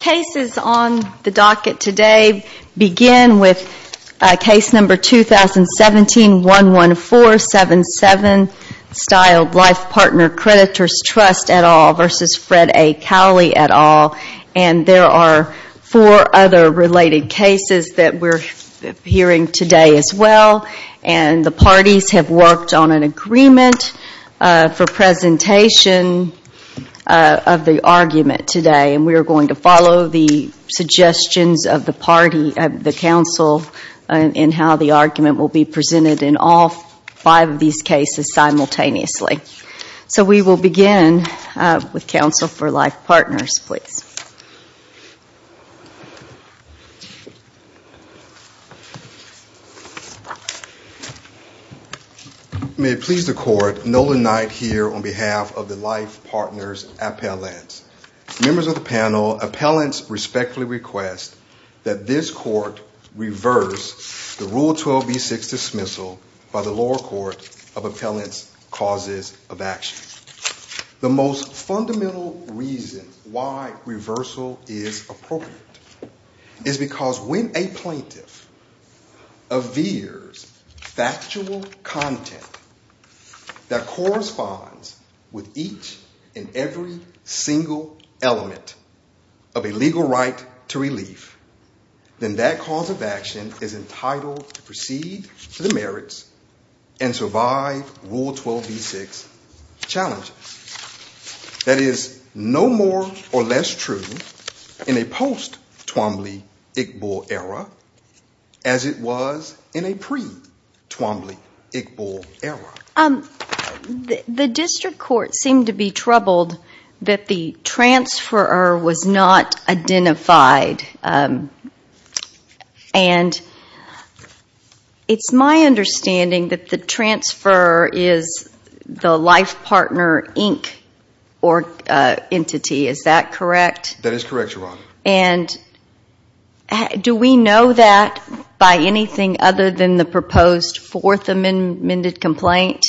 Cases on the docket today begin with Case No. 2017-11477, Stile Life Partners Creditors' Trust et al. v. Fred A. Cowley et al. and there are four other related cases that we're hearing today as well and the parties have worked on an agreement for presentation of the argument today and we're going to follow the suggestions of the party, the Council, in how the argument will be presented in all five of these cases simultaneously. So we will begin with Council for Life Partners. May it please the Court, Nolan Knight here on behalf of the Life Partners appellants. Members of the panel, appellants respectfully request that this Court reverse the Rule 12b-6 dismissal by the lower court of appellants' causes of action. The most fundamental reason why reversal is appropriate is because when a plaintiff avers factual content that corresponds with each and every single element of a legal right to relief, then that cause of action is entitled to proceed to the merits and survive Rule 12b-6 challenges. That is no more or less true in a post-Twombly-Igborg era as it was in a pre-Twombly-Igborg era. The District Court seemed to be troubled that the transferor was not identified. It's my understanding that the transferor is the Life Partner Inc. entity, is that correct? Do we know that by anything other than the proposed fourth amended complaint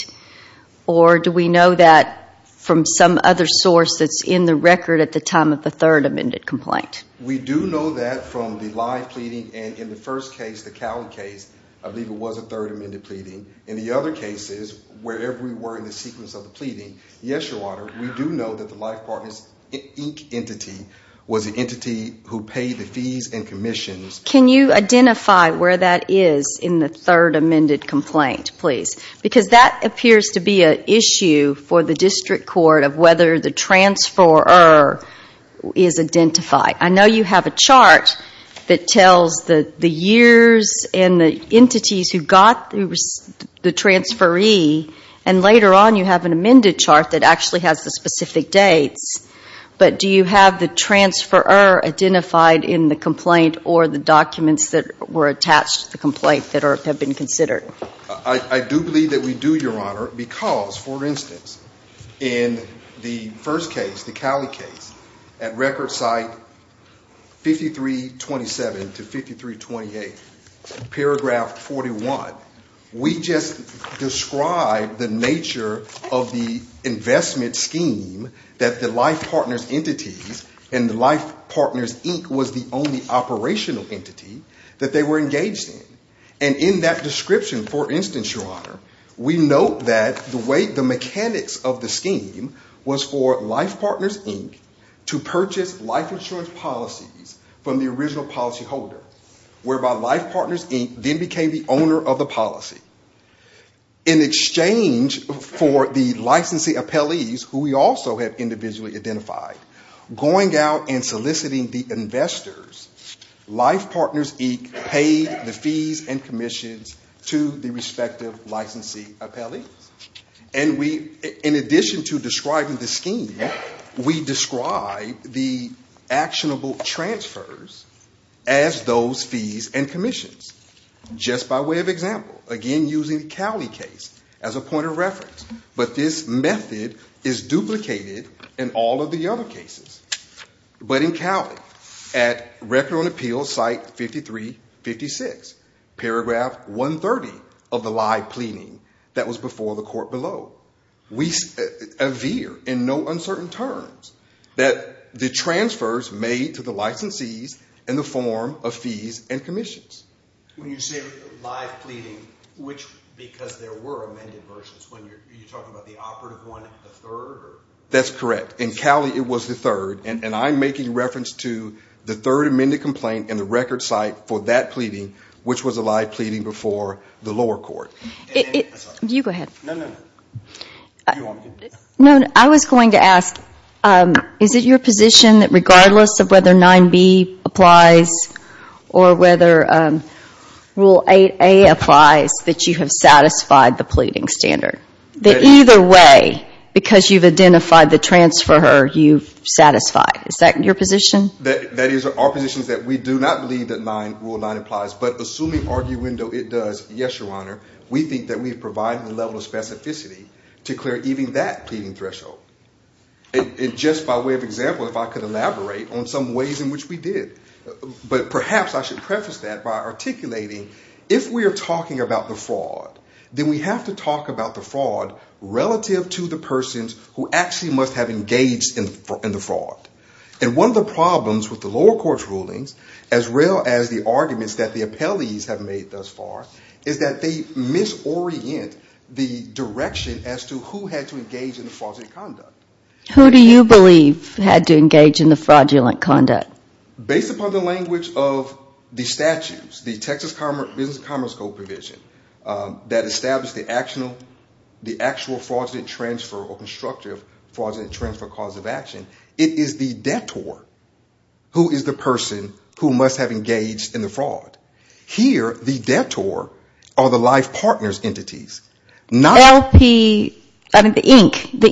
or do we know that from some other source that's in the record at the time of the third amended complaint? We do know that from the live pleading and in the first case, the Cowan case, I believe it was a third amended pleading. In the other cases, wherever we were in the sequence of the pleading, yes, Your Honor, we do know that the entity who paid the fees and commissions... Can you identify where that is in the third amended complaint, please? Because that appears to be an issue for the District Court of whether the transferor is identified. I know you have a chart that tells the years and the entities who got the transferee and later on you have an amended chart that actually has the specific date, but do you have the transferor identified in the complaint or the documents that were attached to the complaint that have been considered? I do believe that we do, Your Honor, because, for instance, in the first case, the Cowan case, at record site 53-27 to 53-28, paragraph 41, we just described the nature of the investment scheme that the Life Partners entity and the Life Partners Inc. was the only operational entity that they were engaged in. And in that description, for instance, Your Honor, we note that the mechanics of the scheme was for Life Partners Inc. to purchase life insurance policies from the original policyholder, whereby Life Partners Inc. then became the owner of the policy. In exchange for the licensee appellees, who we also have individually identified, going out and soliciting the investors, Life Partners Inc. paid the fees and commissions to the respective licensee appellee. And in addition to those fees and commissions, just by way of example, again using Cowan case as a point of reference, but this method is duplicated in all of the other cases. But in Cowan, at record on appeal site 53-56, paragraph 130 of the live pleading was made to the licensees in the form of fees and commissions. When you say live pleading, because there were amended versions, are you talking about the operative one, the third? That's correct. In Cowan, it was the third. And I'm making reference to the third amended complaint in the record site for that pleading, which was a live pleading before the lower court. You go ahead. No, no, no. I was going to ask, is it your position that regardless of whether 9B applies or whether Rule 8A applies, that you have satisfied the pleading standard? That either way, because you've identified the transfer, you've satisfied. Is that your position? That is our position, that we do not believe that Rule 9 applies. But assuming argument it does, yes, Your Honor, we think that we've provided the level of specificity to clear even that pleading threshold. And just by way of example, if I could elaborate on some ways in which we did. But perhaps I should preface that by articulating, if we are talking about the fraud, then we have to talk about the fraud relative to the persons who actually must have engaged in the fraud. And one of the problems with the lower court's rulings, as well as the arguments that the direction as to who had to engage in the fraudulent conduct. Who do you believe had to engage in the fraudulent conduct? Based upon the language of the statutes, the Texas Business Commerce Code provision that established the actual fraudulent transfer or constructive fraudulent transfer cause of action, it is the detour who is the person who must have engaged in the fraud. Here, the detour are the life partners' entities. The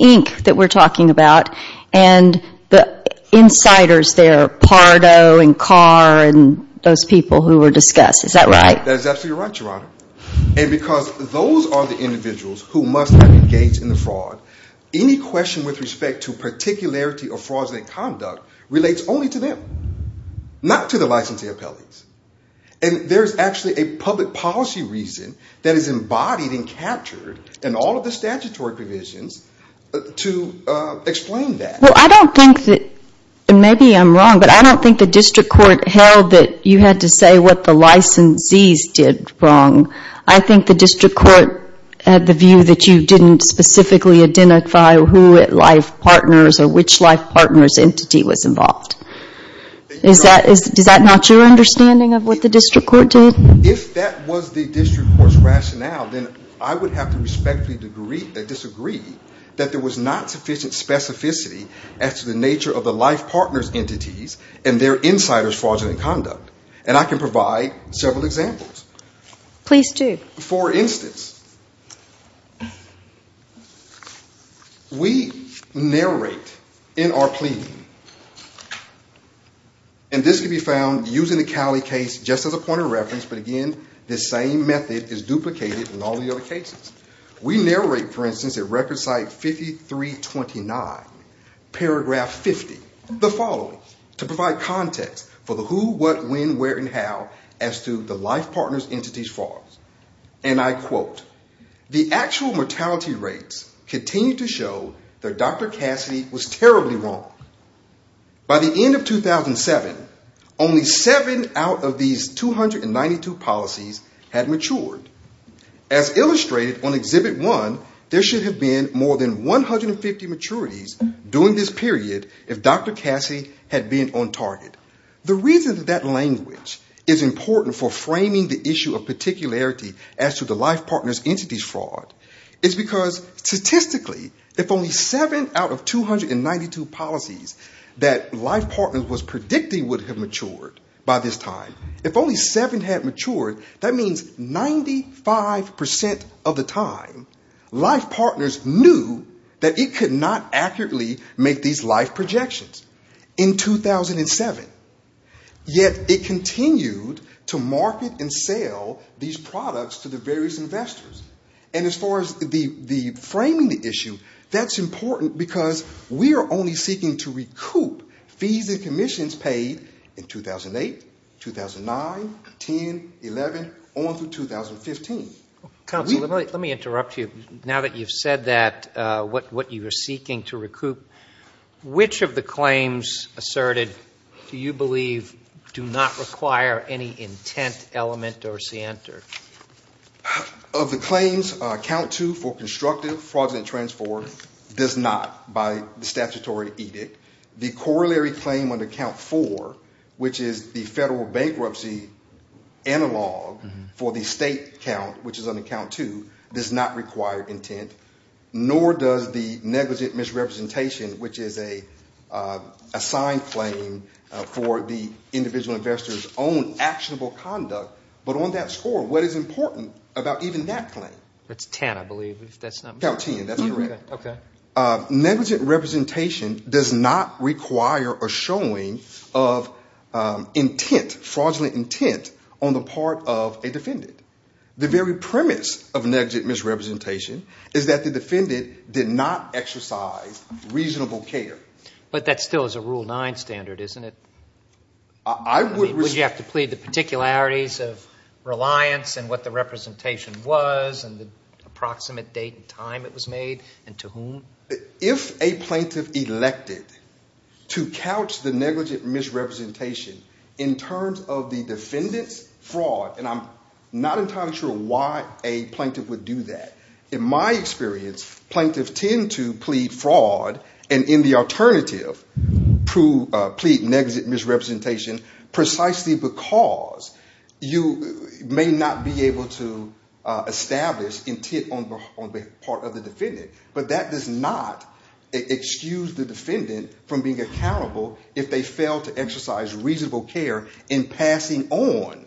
ink that we're talking about and the insiders there, Pardo and Carr and those people who were discussed. Is that right? That's exactly right, Your Honor. And because those are the individuals who must have engaged in the fraud, any question with respect to And there's actually a public policy reason that is embodied and captured in all of the statutory provisions to explain that. Well, I don't think that, maybe I'm wrong, but I don't think the district court held that you had to say what the licensees did wrong. I think the district court had the view that you didn't specifically identify who had life partners or which life partners' entity was involved. Is that not your understanding of what the district court did? If that was the district court's rationale, then I would have to respectfully disagree that there was not sufficient specificity as to the nature of the life partners' entities and their insiders' fraudulent conduct. And I can provide several examples. Please do. For instance, we narrate in our plea, and this can be found using the Cowley case just as a point of reference, but again, the same method is duplicated in all the other cases. We narrate, for instance, at record site 5329, paragraph 50, the following, to provide context for the who, what, when, where, and how as to the life partners' entities' fraud. And I quote, the actual mortality rates continue to show that Dr. Cassidy was terribly wrong. By the end of 2007, only seven out of these 292 policies had matured. As illustrated on Exhibit 1, there should have been more than 150 maturities during this period if Dr. Cassidy had been on target. The reason that language is important for framing the issue of particularity as to the life partners' entities' fraud is because statistically, if only seven out of 292 policies that life partners was predicting would have matured by this time, if only seven had matured, that means 95% of the time, life partners knew that it could not accurately make these life projections. In 2007, yet it continued to market and sell these products to the various investors. And as far as framing the issue, that's important because we are only seeking to recoup fees and commissions paid in 2008, 2009, 2010, 2011, on through 2015. Counsel, let me interrupt you. Now that you've said that, what you are seeking to recoup, which of the claims asserted do you believe do not require any intent, element, or scienter? Of the claims, Count 2 for constructive fraudulent transport does not by statutory edict. The corollary claim under Count 4, which is the federal bankruptcy analog for the state count, which is under Count 2, does not require intent, nor does the negligent misrepresentation, which is an assigned claim for the individual investor's own actionable conduct. But on that score, what is important about even that claim? That's 10, I believe. That's 10, that's correct. Negligent representation does not require a showing of intent, fraudulent intent, on the part of a defendant. The very premise of negligent misrepresentation is that the defendant did not exercise reasonable care. But that still is a Rule 9 standard, isn't it? Would you have to plead the particularities of reliance and what the representation was and the approximate date and time it was made and to whom? If a plaintiff elected to couch the negligent misrepresentation in terms of the defendant's fraud, and I'm not entirely sure why a plaintiff would do that, in my experience, plaintiffs tend to plead fraud and, in the alternative, plead negligent misrepresentation precisely because you may not be able to establish intent on the part of the defendant. But that does not excuse the defendant from being accountable if they fail to exercise reasonable care in passing on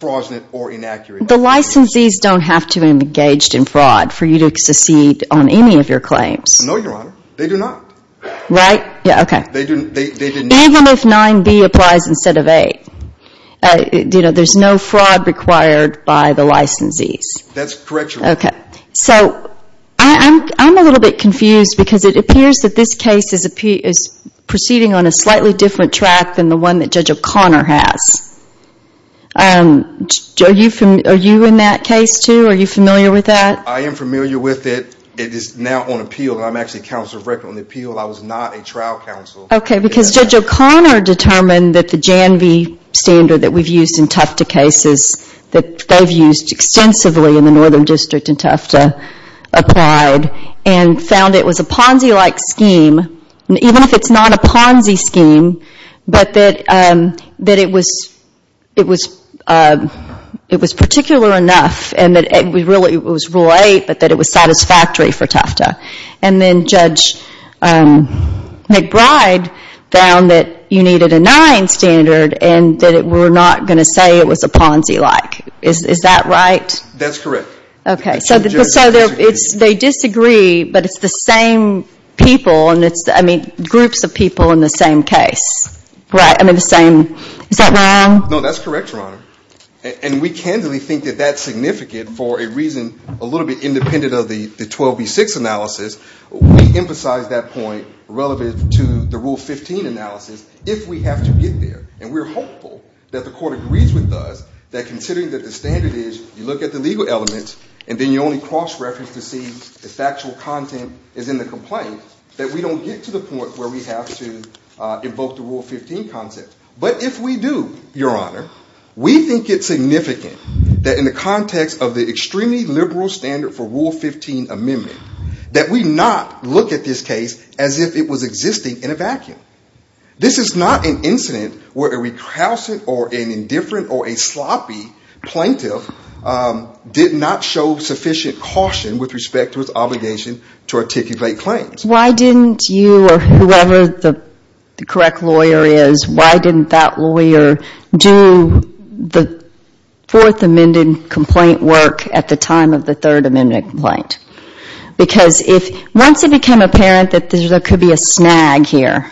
fraudulent or inaccurate information. The licensees don't have to have been engaged in fraud for you to succeed on any of your claims? No, Your Honor. They do not. Right? Yeah, okay. They do not. Even if 9b applies instead of 8, there's no fraud required by the licensees. That's correct, Your Honor. Okay. So, I'm a little bit confused because it appears that this case is proceeding on a slightly different track than the one that Judge O'Connor has. Are you in that case, too? Are you familiar with that? I am familiar with it. It is now on appeal. I'm actually counsel of record on the appeal. I was not a trial counsel. Okay, because Judge O'Connor determined that the Jan V standard that we've used in Tufta cases, that they've used extensively in the Northern District in Tufta, applied and found it was a Ponzi-like scheme, even if it's not a Ponzi scheme, but that it was particular enough and that it was really Rule 8, but that it was satisfactory for Tufta. And then Judge McBride found that you needed a 9 standard and that we're not going to say it was a Ponzi-like. Is that right? That's correct. Okay. So, they disagree, but it's the same people, I mean, groups of people in the same case. Is that wrong? No, that's correct, Your Honor. And we candidly think that that's significant for a reason a little bit independent of the 12B6 analysis. We emphasize that point relevant to the Rule 15 analysis if we have to get there. And we're hopeful that the court agrees with us that considering that the standard is, you look at the legal elements and then you only cross-reference to see the factual content is in the complaint, that we don't get to the point where we have to invoke the Rule 15 concept. But if we do, Your Honor, we think it's significant that in the context of the extremely liberal standard for Rule 15 amendment, that we not look at this case as if it was existing in a vacuum. This is not an incident where a recalcitrant or an indifferent or a sloppy plaintiff did not show sufficient caution with respect to his obligation to articulate claims. Why didn't you or whoever the correct lawyer is, why didn't that lawyer do the Fourth Amendment complaint work at the time of the Third Amendment right? Because once it became apparent that there could be a snag here,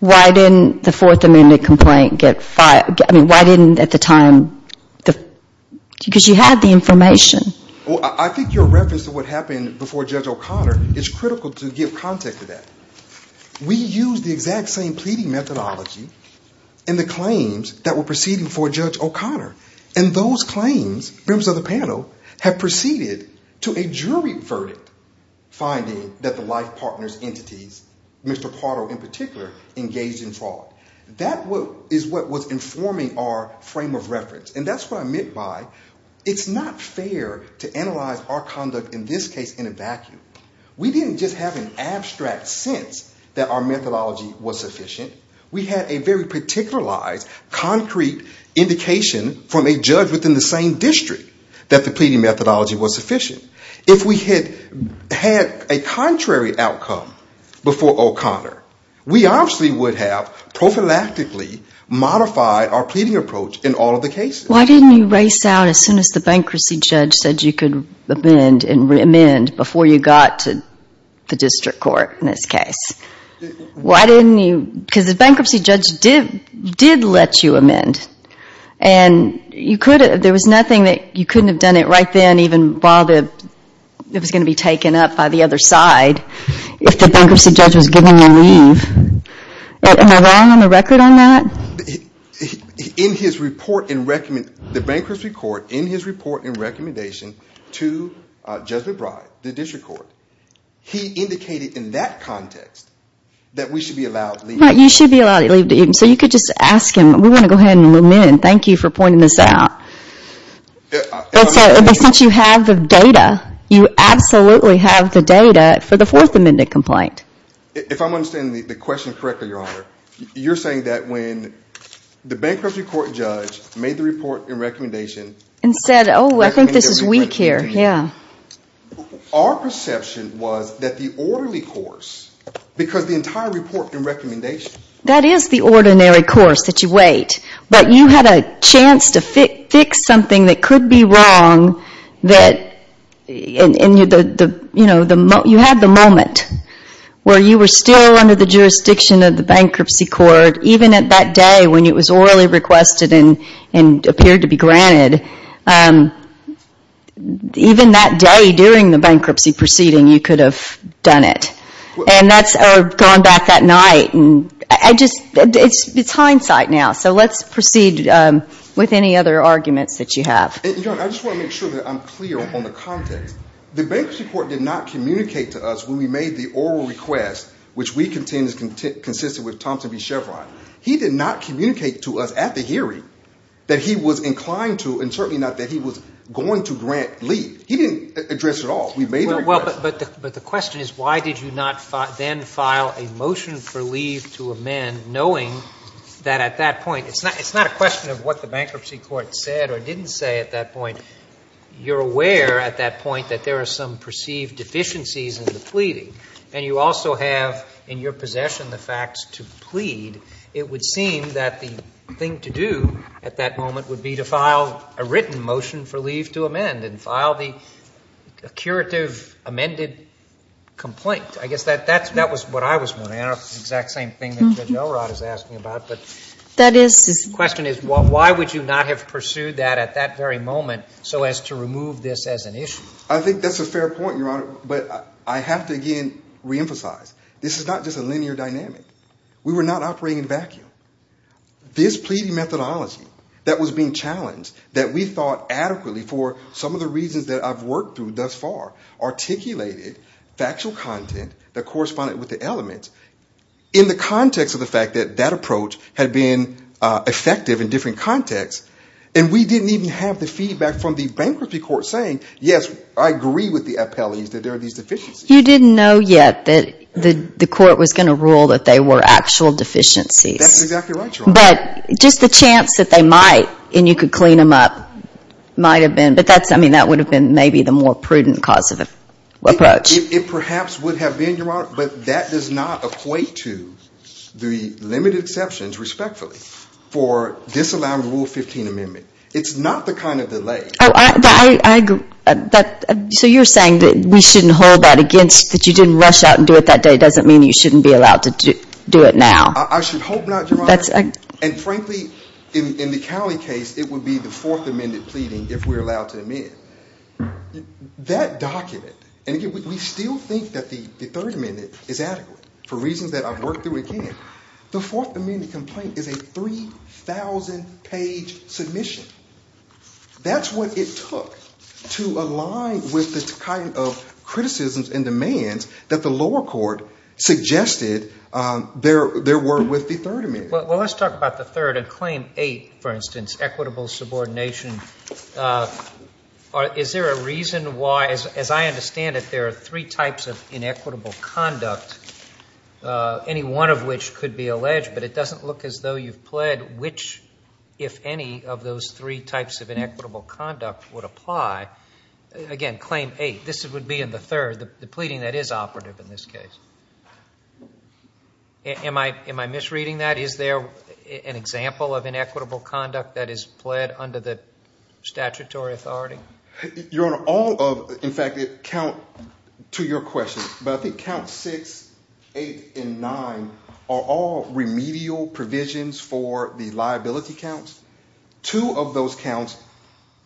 why didn't the Fourth Amendment complaint get filed? I mean, why didn't at the time, because you had the information. Well, I think your reference to what happened before Judge O'Connor is critical to give context to that. We used the exact same pleading methodology in the claims that were proceeding before Judge O'Connor. And those claims, members of the panel, have proceeded to a jury verdict finding that the life partner's entities, Mr. Pardo in particular, engaged in fraud. That is what was informing our frame of reference. And that's what I meant by it's not fair to analyze our conduct in this case in a vacuum. We didn't just have an abstract sense that our methodology was sufficient. We had a very particularized, concrete indication from a judge within the same district that the pleading methodology was sufficient. If we had had a contrary outcome before O'Connor, we obviously would have prophylactically modified our pleading approach in all of the cases. Why didn't you race out as soon as the bankruptcy judge said you could amend before you got to the district court in this case? Why didn't you? Because the bankruptcy judge did let you amend. And there was nothing that you couldn't have done it right then even while it was going to be taken up by the other side if the bankruptcy judge had given you leave. Am I wrong on the record on that? The bankruptcy court in his report and recommendation to Judge McBride, the district court, he indicated in that context that we should be allowed leave. Right, you should be allowed to leave. So you could just ask him, we want to go ahead and amend. Thank you for pointing this out. But since you have the data, you absolutely have the data for the Fourth Amendment complaint. If I'm understanding the question correctly, Your Honor, you're saying that when the bankruptcy court judge made the report and recommendation And said, oh, I think this is weak here, yeah. Our perception was that the orderly course, because the entire report and recommendation That is the ordinary course that you wait. But you had a chance to fix something that could be wrong. You had the moment where you were still under the jurisdiction of the bankruptcy court. Even at that day when it was already requested and appeared to be granted. Even that day during the bankruptcy proceeding, you could have done it. And that's gone back that night. It's hindsight now. So let's proceed with any other arguments that you have. Your Honor, I just want to make sure that I'm clear on the context. The bankruptcy court did not communicate to us when we made the oral request, which we contend is consistent with Thompson v. Chevron. He did not communicate to us at the hearing that he was inclined to and certainly not that he was going to grant leave. He didn't address it at all. But the question is why did you not then file a motion for leave to amend knowing that at that point It's not a question of what the bankruptcy court said or didn't say at that point. You're aware at that point that there are some perceived deficiencies in the pleading. And you also have in your possession the facts to plead. It would seem that the thing to do at that moment would be to file a written motion for leave to amend. And file the curative amended complaint. I guess that was what I was wondering. I don't know if it's the exact same thing that Judge Elrod is asking about. But the question is why would you not have pursued that at that very moment so as to remove this as an issue? I think that's a fair point, Your Honor. But I have to, again, reemphasize this is not just a linear dynamic. We were not operating in a vacuum. This pleading methodology that was being challenged, that we thought adequately for some of the reasons that I've worked through thus far, articulated factual content that corresponded with the elements, in the context of the fact that that approach had been effective in different contexts, and we didn't even have the feedback from the bankruptcy court saying, yes, I agree with the appellees that there are these deficiencies. You didn't know yet that the court was going to rule that they were actual deficiencies. That's exactly right, Your Honor. But just the chance that they might and you could clean them up might have been, but that would have been maybe the more prudent cause of approach. It perhaps would have been, Your Honor, but that does not equate to the limited exceptions, respectfully, for disallowing the Rule 15 amendment. It's not the kind of delay. I agree. So you're saying that we shouldn't hold that against, that you didn't rush out and do it that day, doesn't mean you shouldn't be allowed to do it now. I should hope not, Your Honor, and frankly, in the Cowley case, it would be the Fourth Amendment pleading if we're allowed to amend. That document, and we still think that the Third Amendment is adequate for reasons that I've worked through again. The Fourth Amendment complaint is a 3,000-page submission. That's what it took to align with this kind of criticisms and demands that the lower court suggested there were with the Third Amendment. Well, let's talk about the Third and Claim 8, for instance, equitable subordination. Is there a reason why, as I understand it, there are three types of inequitable conduct, any one of which could be alleged, but it doesn't look as though you've pled which, if any, of those three types of inequitable conduct would apply. Again, Claim 8, this would be in the third, the pleading that is operative in this case. Am I misreading that? Is there an example of inequitable conduct that is pled under the statutory authority? Your Honor, all of, in fact, count to your question, but I think Count 6, 8, and 9 are all remedial provisions for the liability counts. Two of those counts,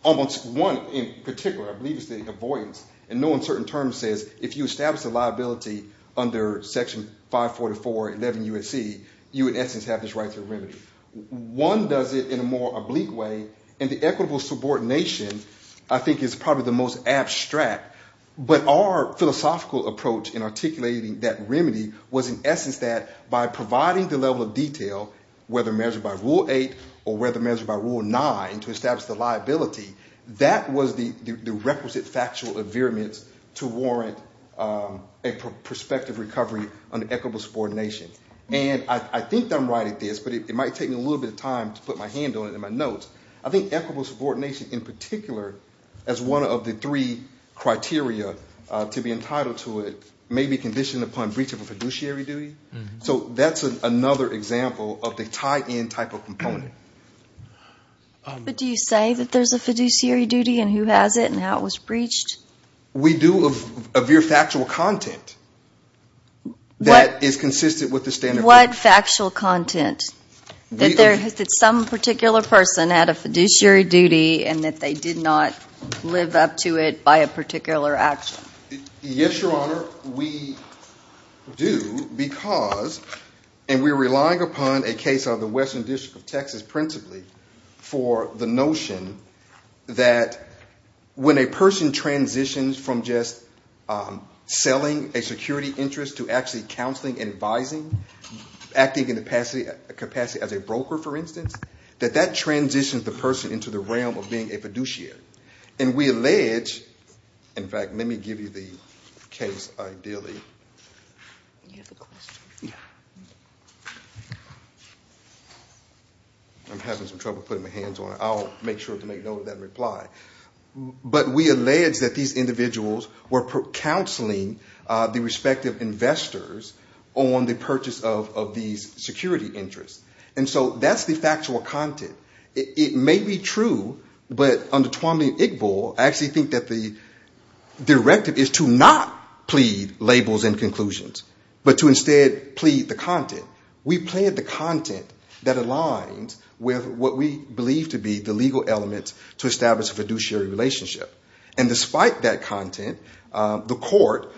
almost one in particular, obviously avoidance, and no uncertain term says if you establish a liability under Section 544.11 USC, you, in essence, have this right to remedy. One does it in a more oblique way, and the equitable subordination, I think, is probably the most abstract, but our philosophical approach in articulating that remedy was, in essence, that by providing the level of detail, whether measured by Rule 8 or whether measured by Rule 9 to establish the liability, that was the requisite factual adherence to warrant a prospective recovery under equitable subordination. And I think I'm right at this, but it might take me a little bit of time to put my hand on it and my notes. I think equitable subordination, in particular, as one of the three criteria to be entitled to it, may be conditioned upon breach of a fiduciary duty. So that's another example of the tie-in type of component. But do you say that there's a fiduciary duty and who has it and how it was breached? We do of your factual content that is consistent with the standard. What factual content? That some particular person had a fiduciary duty and that they did not live up to it by a particular action? Yes, Your Honor, we do. We do because, and we're relying upon a case of the Western District of Texas principally for the notion that when a person transitions from just selling a security interest to actually counseling and advising, acting in the capacity as a broker, for instance, that that transitions the person into the realm of being a fiduciary. And we allege, in fact, let me give you the case ideally. I'm having some trouble putting my hands on it. I'll make sure to make note of that reply. But we allege that these individuals were counseling the respective investors on the purchase of these security interests. And so that's the factual content. It may be true, but under Tuamlin-Iqbal, I actually think that the directive is to not plead labels and conclusions, but to instead plead the content. We plead the content that aligns with what we believe to be the legal elements to establish a fiduciary relationship. And despite that content, the court,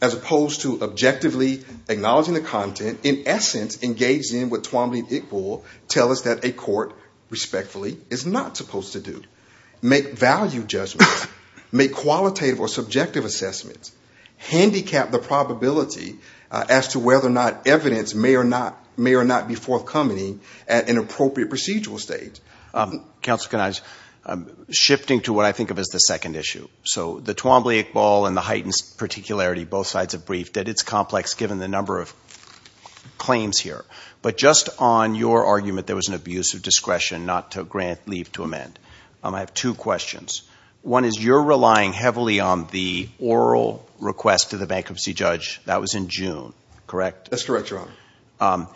as opposed to objectively acknowledging the content, in essence, engaged in with Tuamlin-Iqbal, tell us that a court respectfully is not supposed to do. Make value judgments. Make qualitative or subjective assessments. Handicap the probability as to whether or not evidence may or not be forthcoming at an appropriate procedural stage. Counselor Gynes, shifting to what I think of as the second issue. So the Tuamlin-Iqbal and the heightened particularity, both sides of the brief, that it's complex given the number of claims here. But just on your argument there was an abuse of discretion not to grant leave to amend, I have two questions. One is you're relying heavily on the oral request of the bankruptcy judge. That was in June, correct? That's correct, Your Honor.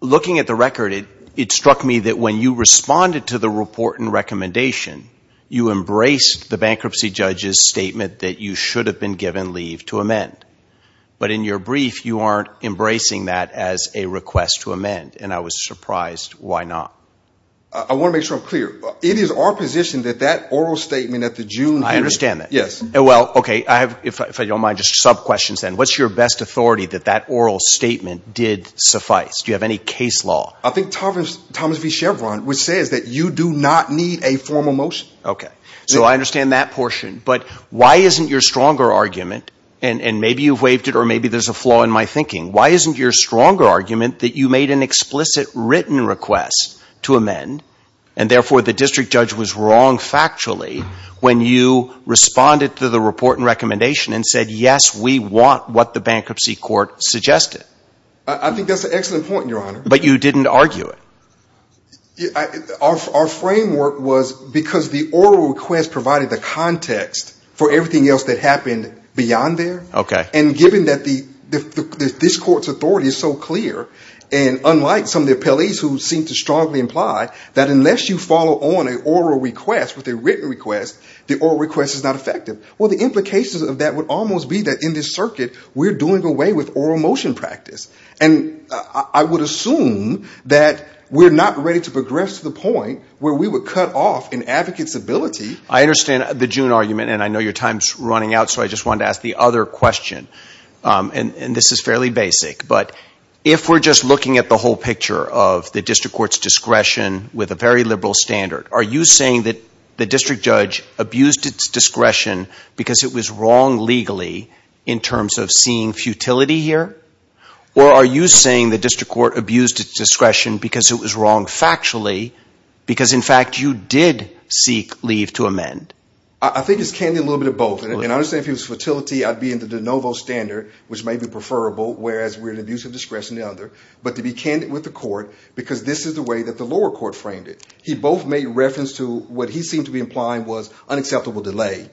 Looking at the record, it struck me that when you responded to the report and recommendation, you embraced the bankruptcy judge's statement that you should have been given leave to amend. But in your brief, you aren't embracing that as a request to amend. And I was surprised why not. I want to make sure I'm clear. It is our position that that oral statement at the June meeting. I understand that. Yes. Well, okay, if I don't mind, just sub-questions then. What's your best authority that that oral statement did suffice? Do you have any case law? I think Thomas B. Chevron would say that you do not need a formal motion. Okay. So I understand that portion. But why isn't your stronger argument, and maybe you've waived it or maybe there's a flaw in my thinking, why isn't your stronger argument that you made an explicit written request to amend, and therefore the district judge was wrong factually when you responded to the report and recommendation and said, yes, we want what the bankruptcy court suggested? I think that's an excellent point, Your Honor. But you didn't argue it. Our framework was because the oral request provided the context for everything else that happened beyond there. Okay. And given that this court's authority is so clear, and unlike some of the appellees who seem to strongly imply that unless you follow on an oral request with a written request, the oral request is not effective. Well, the implications of that would almost be that in this circuit we're doing away with oral motion practice. And I would assume that we're not ready to progress to the point where we would cut off an advocate's ability. I understand the June argument, and I know your time's running out, so I just wanted to ask the other question. And this is fairly basic. But if we're just looking at the whole picture of the district court's discretion with a very liberal standard, are you saying that the district judge abused its discretion because it was wrong legally in terms of seeing futility here? Or are you saying the district court abused its discretion because it was wrong factually, because, in fact, you did seek leave to amend? I think it's candid a little bit of both. And I would say if it was futility, I'd be in the de novo standard, which may be preferable, whereas we're in abusive discretion the other. But to be candid with the court, because this is the way that the lower court framed it. He both made reference to what he seemed to be implying was unacceptable delay.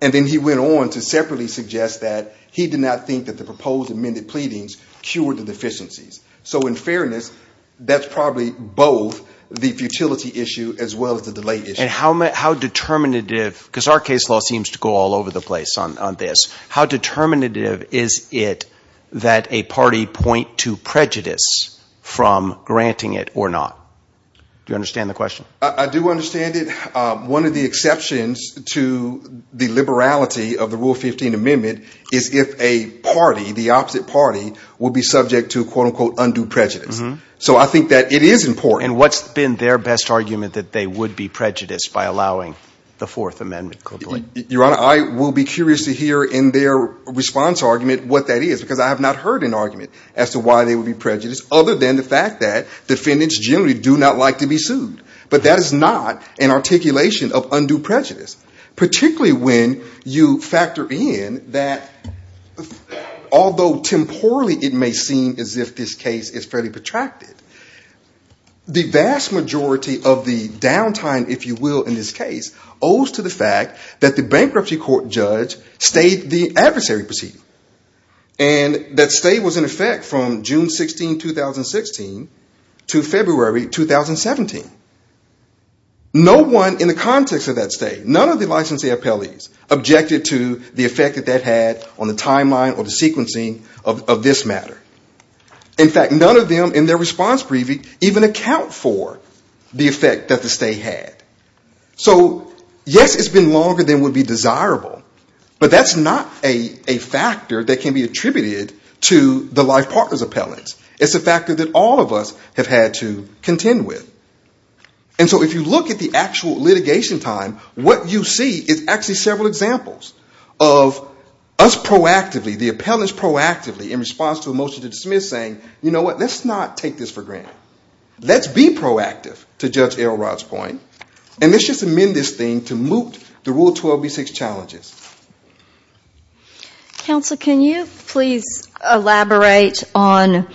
And then he went on to separately suggest that he did not think that the proposed amended pleadings cured the deficiencies. So in fairness, that's probably both the futility issue as well as the delay issue. And how determinative, because our case law seems to go all over the place on this, how determinative is it that a party point to prejudice from granting it or not? Do you understand the question? I do understand it. One of the exceptions to the liberality of the Rule 15 Amendment is if a party, the opposite party, will be subject to, quote, unquote, undue prejudice. So I think that it is important. And what's been their best argument that they would be prejudiced by allowing the Fourth Amendment? Your Honor, I will be curious to hear in their response argument what that is, because I have not heard an argument as to why they would be prejudiced, other than the fact that defendants generally do not like to be sued. But that is not an articulation of undue prejudice, particularly when you factor in that although temporally it may seem as if this case is fairly protracted, the vast majority of the downtime, if you will, in this case, owes to the fact that the bankruptcy court judge stayed the adversary proceeding and that stay was in effect from June 16, 2016 to February 2017. No one in the context of that stay, none of the licensee appellees, objected to the effect that that had on the timeline or the sequencing of this matter. In fact, none of them in their response briefing even account for the effect that the stay had. So yes, it's been longer than would be desirable, but that's not a factor that can be attributed to the life partner's appellants. It's a factor that all of us have had to contend with. And so if you look at the actual litigation time, what you see is actually several examples of us proactively, the appellants proactively in response to a motion to dismiss saying, you know what, let's not take this for granted. Let's be proactive, to Judge Alrod's point, and let's just amend this thing to moot the Rule 12B6 challenges. Counsel, can you please elaborate on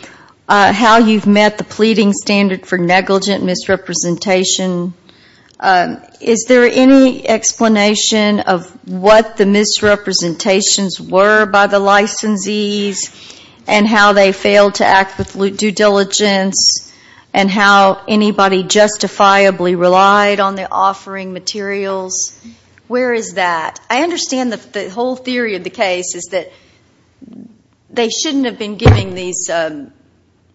how you've met the pleading standard for negligent misrepresentation? Is there any explanation of what the misrepresentations were by the licensees and how they failed to act with due diligence and how anybody justifiably relied on their offering materials? Where is that? I understand the whole theory of the case is that they shouldn't have been giving these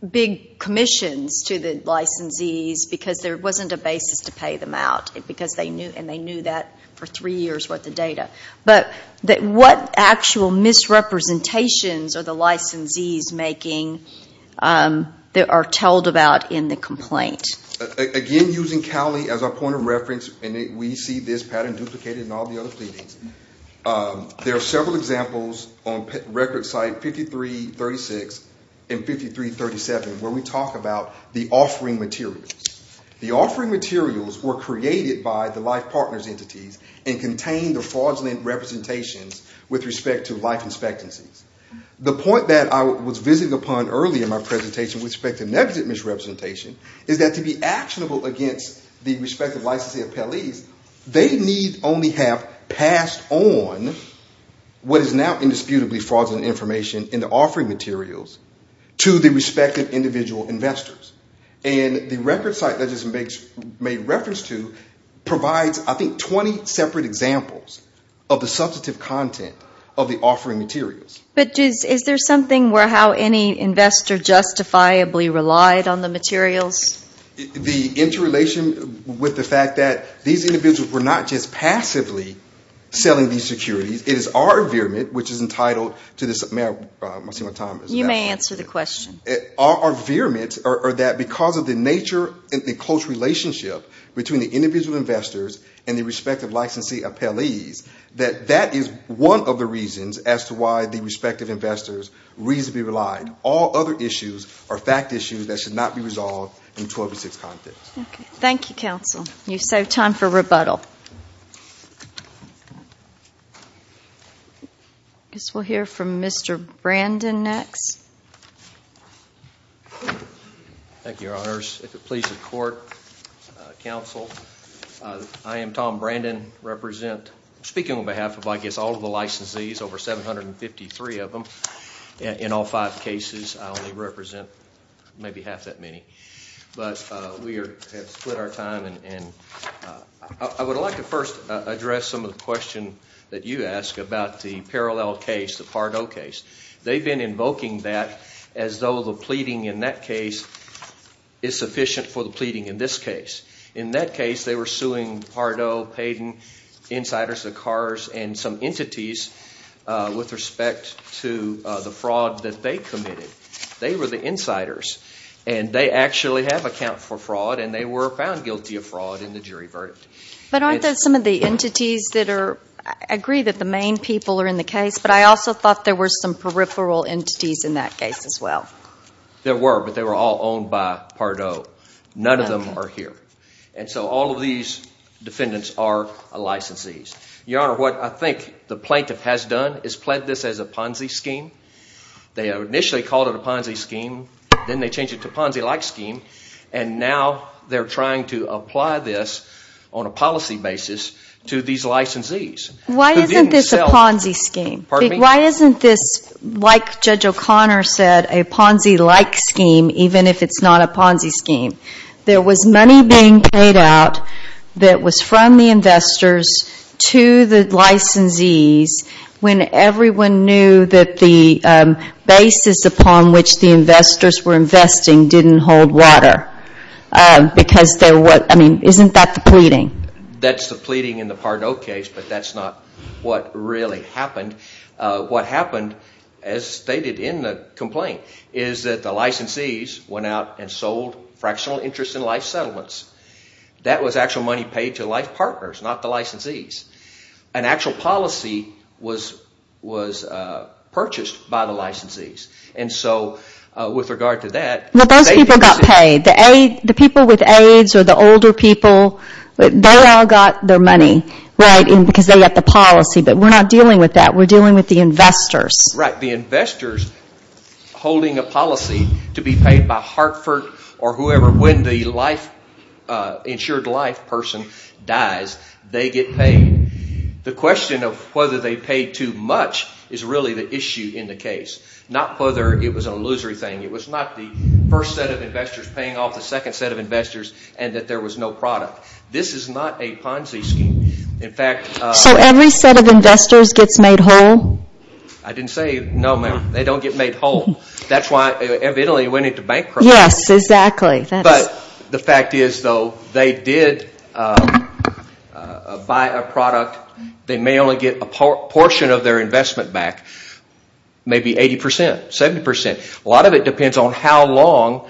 big commissions to the licensees because there wasn't a basis to pay them out, and they knew that for three years was the data. But what actual misrepresentations are the licensees making that are told about in the complaint? Again, using Cali as our point of reference, and we see this pattern duplicated in all the other cities, there are several examples on record site 5336 and 5337 where we talk about the offering materials. The offering materials were created by the life partners entities and contained the fraudulent representations with respect to life expectancy. The point that I was visiting upon earlier in my presentation with respect to negligent misrepresentation is that to be actionable against the respective licensee of Cali, they need only have passed on what is now indisputably fraudulent information in the offering materials to the respective individual investors. And the record site that this is made reference to provides, I think, 20 separate examples of the substantive content of the offering materials. But is there something where how any investor justifiably relied on the materials? The interrelation with the fact that these individuals were not just passively selling these securities. It is our veerment, which is entitled to this amount. You may answer the question. Our veerment are that because of the nature and the close relationship between the individual investors and the respective licensee of Cali, that that is one of the reasons as to why the respective investors reasonably relied. All other issues are fact issues that should not be resolved in 206 context. Thank you, Counsel. You saved time for rebuttal. I guess we'll hear from Mr. Brandon next. Thank you, Your Honors. If it pleases the Court, Counsel, I am Tom Brandon, speaking on behalf of I guess all of the licensees, over 753 of them in all five cases. I only represent maybe half that many. But we have split our time. I would like to first address some of the questions that you asked about the parallel case, the Part O case. They've been invoking that as though the pleading in that case is sufficient for the pleading in this case. In that case, they were suing Part O, Payden, insiders of cars, and some entities with respect to the fraud that they committed. They were the insiders, and they actually have account for fraud, and they were found guilty of fraud in the jury verdict. But aren't there some of the entities that are – I agree that the main people are in the case, but I also thought there were some peripheral entities in that case as well. There were, but they were all owned by Part O. None of them are here. And so all of these defendants are licensees. Your Honor, what I think the plaintiff has done is plant this as a Ponzi scheme. They initially called it a Ponzi scheme, then they changed it to a Ponzi-like scheme, and now they're trying to apply this on a policy basis to these licensees. Why isn't this a Ponzi scheme? Why isn't this, like Judge O'Connor said, a Ponzi-like scheme even if it's not a Ponzi scheme? There was money being paid out that was from the investors to the licensees when everyone knew that the basis upon which the investors were investing didn't hold water. Because there was – I mean, isn't that the pleading? That's the pleading in the Part O case, but that's not what really happened. What happened, as stated in the complaint, is that the licensees went out and sold fractional interest in life settlements. That was actual money paid to life partners, not the licensees. An actual policy was purchased by the licensees, and so with regard to that – Well, those people got paid. The people with AIDS or the older people, they all got their money because they got the policy, but we're not dealing with that. We're dealing with the investors. Right. The investors holding a policy to be paid by Hartford or whoever. When the insured life person dies, they get paid. The question of whether they paid too much is really the issue in the case, not whether it was an illusory thing. It was not the first set of investors paying off the second set of investors and that there was no product. This is not a Ponzi scheme. In fact – So every set of investors gets made whole? I didn't say – no, they don't get made whole. That's why Italy went into bankruptcy. Yes, exactly. But the fact is, though, they did buy a product. They may only get a portion of their investment back, maybe 80%, 70%. A lot of it depends on how long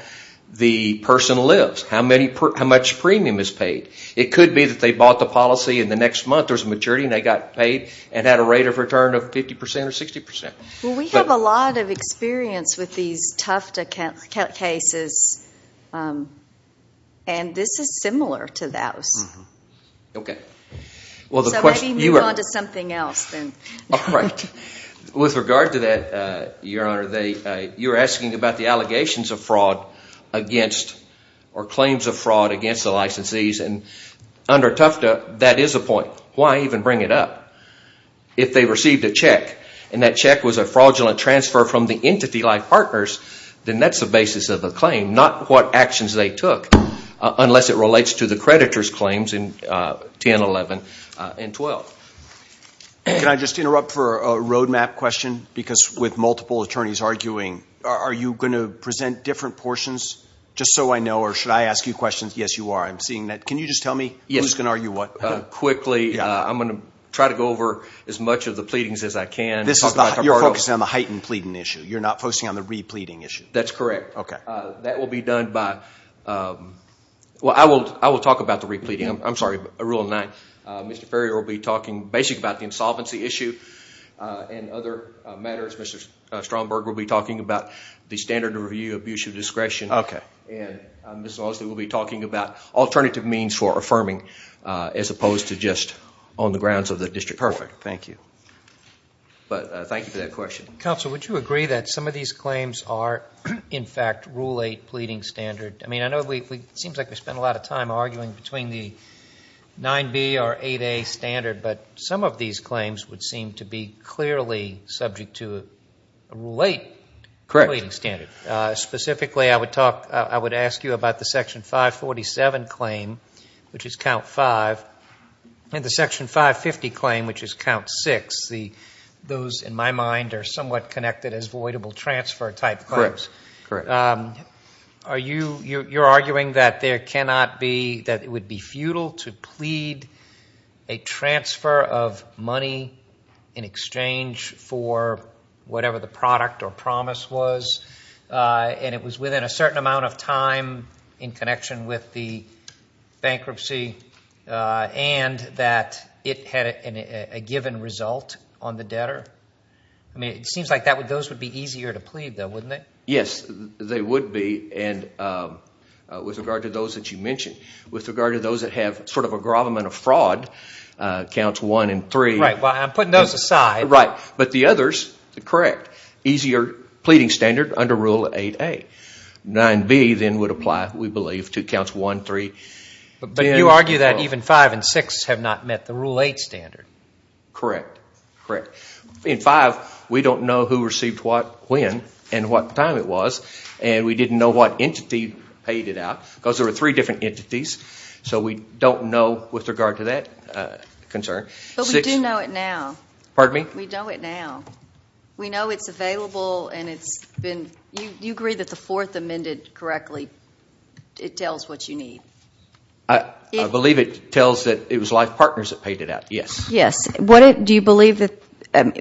the person lives, how much premium is paid. It could be that they bought the policy and the next month there was maturity and they got paid and had a rate of return of 50% or 60%. Well, we have a lot of experience with these Tufta cases, and this is similar to that. Okay. So maybe move on to something else. With regard to that, Your Honor, you were asking about the allegations of fraud or claims of fraud against the licensees. And under Tufta, that is a point. Why even bring it up? If they received a check and that check was a fraudulent transfer from the entity-like partners, then that's the basis of the claim, not what actions they took unless it relates to the creditor's claims in 10, 11, and 12. Can I just interrupt for a roadmap question? Because with multiple attorneys arguing, are you going to present different portions? Just so I know, or should I ask you questions? Yes, you are. I'm seeing that. Can you just tell me who's going to argue what? Quickly, I'm going to try to go over as much of the pleadings as I can. You're focusing on the heightened pleading issue. You're not focusing on the re-pleading issue. That's correct. That will be done by – well, I will talk about the re-pleading. I'm sorry, Rule 9. Mr. Perry will be talking basically about the insolvency issue and other matters. Mr. Stromberg will be talking about the standard of review, abuse of discretion. Okay. And Ms. Lawson will be talking about alternative means for affirming as opposed to just on the grounds of the district court. Perfect. Thank you. But thank you for that question. Counsel, would you agree that some of these claims are, in fact, Rule 8 pleading standard? I mean, I know it seems like we've spent a lot of time arguing between the 9B or 8A standard, but some of these claims would seem to be clearly subject to a late pleading standard. Correct. Specifically, I would ask you about the Section 547 claim, which is Count 5, and the Section 550 claim, which is Count 6. Those, in my mind, are somewhat connected as voidable transfer type claims. Correct. You're arguing that it would be futile to plead a transfer of money in exchange for whatever the product or promise was, and it was within a certain amount of time in connection with the bankruptcy, and that it had a given result on the debtor? It seems like those would be easier to plead, though, wouldn't they? Yes, they would be, with regard to those that you mentioned. With regard to those that have sort of a grave amount of fraud, Counts 1 and 3. Right. Well, I'm putting those aside. Right. But the others, correct, easier pleading standard under Rule 8A. 9B, then, would apply, we believe, to Counts 1, 3. But you argue that even 5 and 6 have not met the Rule 8 standard. Correct. Correct. In 5, we don't know who received what, when, and what time it was, and we didn't know what entity paid it out, because there were three different entities. So we don't know with regard to that concern. But we do know it now. Pardon me? We know it now. We know it's available, and you agree that the Fourth Amendment correctly tells what you need. I believe it tells that it was life partners that paid it out, yes. Yes. Do you believe that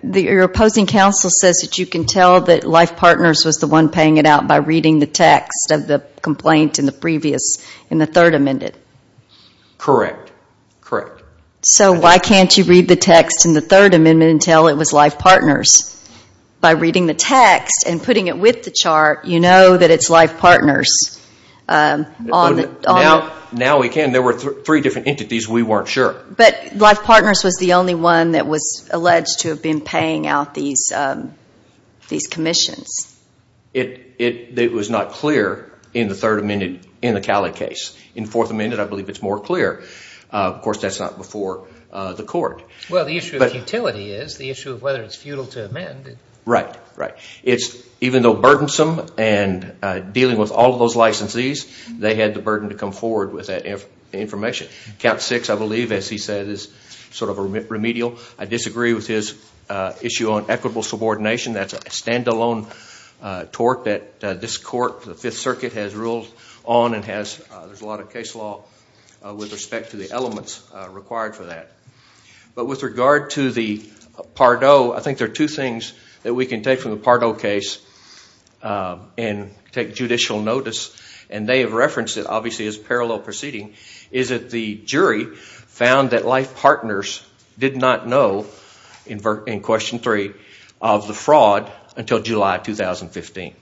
your opposing counsel says that you can tell that life partners was the one paying it out by reading the text of the complaint in the previous, in the Third Amendment? Correct. Correct. So why can't you read the text in the Third Amendment and tell it was life partners? By reading the text and putting it with the chart, you know that it's life partners. Now we can. There were three different entities. We weren't sure. But life partners was the only one that was alleged to have been paying out these commissions. It was not clear in the Cali case. In Fourth Amendment, I believe it's more clear. Of course, that's not before the court. Well, the issue of utility is the issue of whether it's futile to amend. Right. Right. Even though burdensome and dealing with all those licensees, they had the burden to come forward with that information. Count Six, I believe, as he said, is sort of remedial. I disagree with his issue on equitable subordination. That's a standalone tort that this court, the Fifth Circuit, has rules on and has a lot of case law with respect to the elements required for that. But with regard to the Pardot, I think there are two things that we can take from the Pardot case and take judicial notice. And they have referenced it, obviously, as parallel proceeding, is that the jury found that life partners did not know, in Question 3, of the fraud until July of 2015.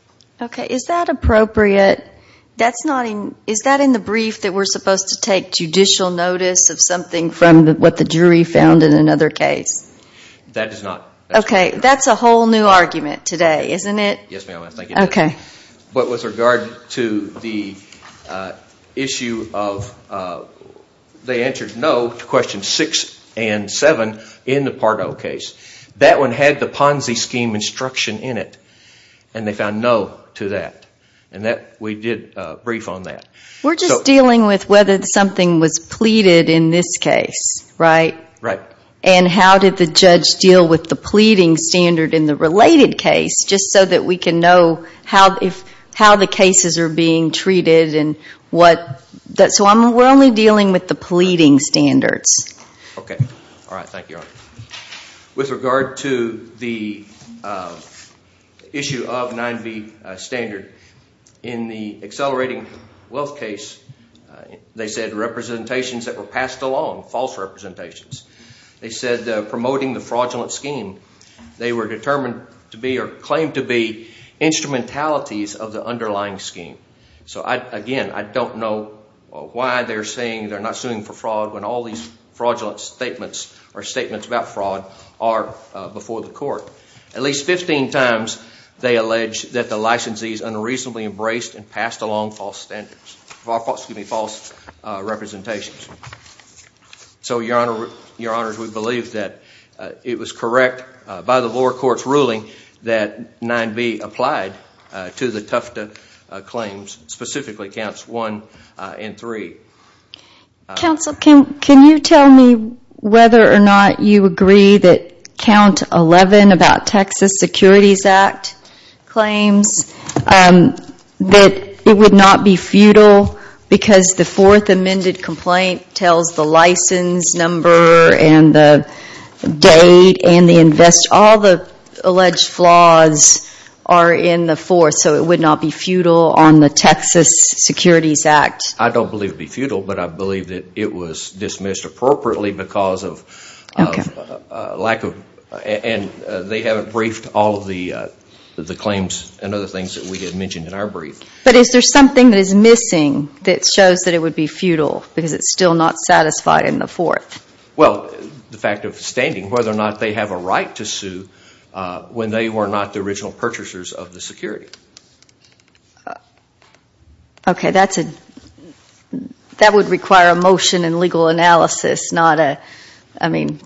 Okay. Is that appropriate? Is that in the brief that we're supposed to take judicial notice of something from what the jury found in another case? That is not. Okay. That's a whole new argument today, isn't it? Yes, ma'am. I think it is. Okay. But with regard to the issue of they answered no to Questions 6 and 7 in the Pardot case, that one had the Ponzi scheme instruction in it. And they found no to that. And we did a brief on that. We're just dealing with whether something was pleaded in this case, right? Right. And how did the judge deal with the pleading standard in the related case, just so that we can know how the cases are being treated and what? So we're only dealing with the pleading standards. Okay. All right. Thank you, Your Honor. With regard to the issue of 9B standard, in the Accelerating Wealth case, they said representations that were passed along, false representations. They said promoting the fraudulent scheme, they were determined to be or claimed to be instrumentalities of the underlying scheme. So, again, I don't know why they're saying they're not suing for fraud when all these fraudulent statements or statements about fraud are before the court. At least 15 times they allege that the licensees unreasonably embraced and passed along false standards, excuse me, false representations. So, Your Honor, we believe that it was correct by the lower court's ruling that 9B applied to the Tufta claims, specifically Counts 1 and 3. Counsel, can you tell me whether or not you agree that Count 11 about Texas Securities Act claims that it would not be futile because the fourth amended complaint tells the license number and the date and all the alleged flaws are in the fourth. So it would not be futile on the Texas Securities Act. I don't believe it would be futile, but I believe that it was dismissed appropriately because of lack of... and they haven't briefed all of the claims and other things that we had mentioned in our brief. But is there something that is missing that shows that it would be futile because it's still not satisfied in the fourth? Well, the fact of standing, whether or not they have a right to sue when they were not the original purchasers of the security. Okay, that would require a motion and legal analysis, not a... I mean,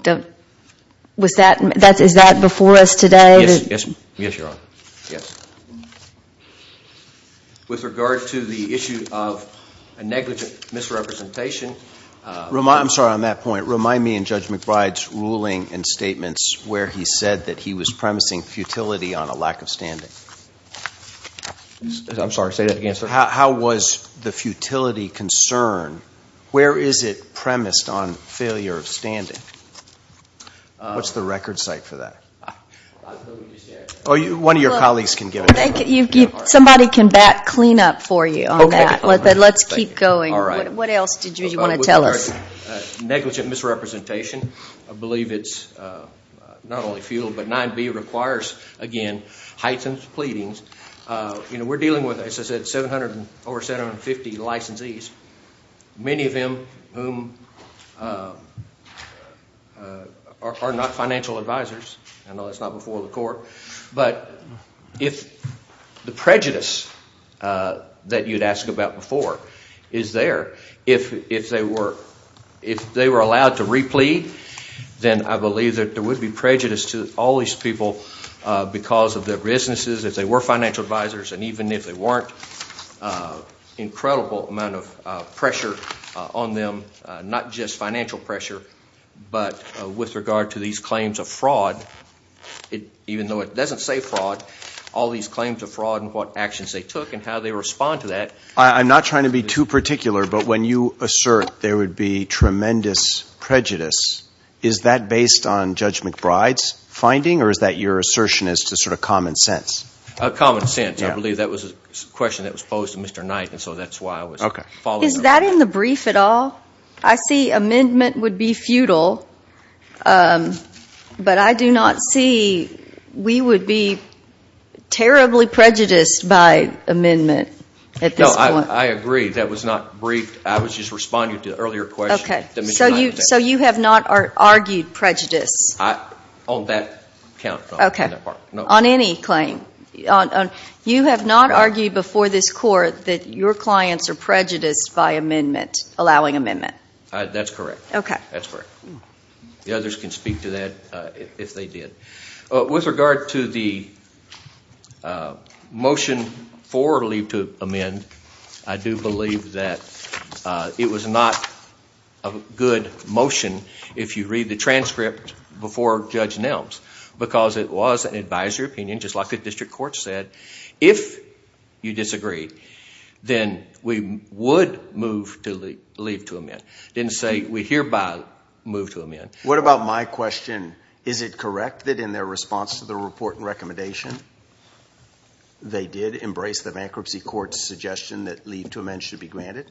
is that before us today? Yes, Your Honor, yes. With regard to the issue of a negligent misrepresentation... I'm sorry, on that point, remind me in Judge McBride's ruling and statements where he said that he was promising futility on a lack of standards. I'm sorry, say that again, sir. How was the futility concerned? Where is it premised on failure of standing? What's the record site for that? One of your colleagues can give it to you. Somebody can back clean up for you on that. Let's keep going. What else did you want to tell us? Negligent misrepresentation, I believe it's not only futile, but 9B requires, again, heightened pleadings. You know, we're dealing with, as I said, over 750 licensees, many of them who are not financial advisors. I know that's not before the court. But if the prejudice that you'd asked about before is there, if they were allowed to replead, then I believe that there would be prejudice to all these people because of their businesses, if they were financial advisors, and even if they weren't, incredible amount of pressure on them, not just financial pressure, but with regard to these claims of fraud, even though it doesn't say fraud, all these claims of fraud and what actions they took and how they respond to that. I'm not trying to be too particular, but when you assert there would be tremendous prejudice, is that based on Judge McBride's finding, or is that your assertion as to sort of common sense? Common sense, I believe that was a question that was posed to Mr. Knight, and so that's why I was following it. Is that in the brief at all? I see amendment would be futile, but I do not see we would be terribly prejudiced by amendment at this point. No, I agree. That was not brief. I was just responding to an earlier question. Okay. So you have not argued prejudice? On that account, no. You have not argued before this court that your clients are prejudiced by allowing amendment? That's correct. The others can speak to that if they did. With regard to the motion formally to amend, I do believe that it was not a good motion, if you read the transcript before Judge Nelms, because it was an advisory opinion, just like the district court said. If you disagree, then we would move to leave to amend. I didn't say we hereby move to amend. What about my question? Is it correct that in their response to the report and recommendation, they did embrace the bankruptcy court's suggestion that leave to amend should be granted?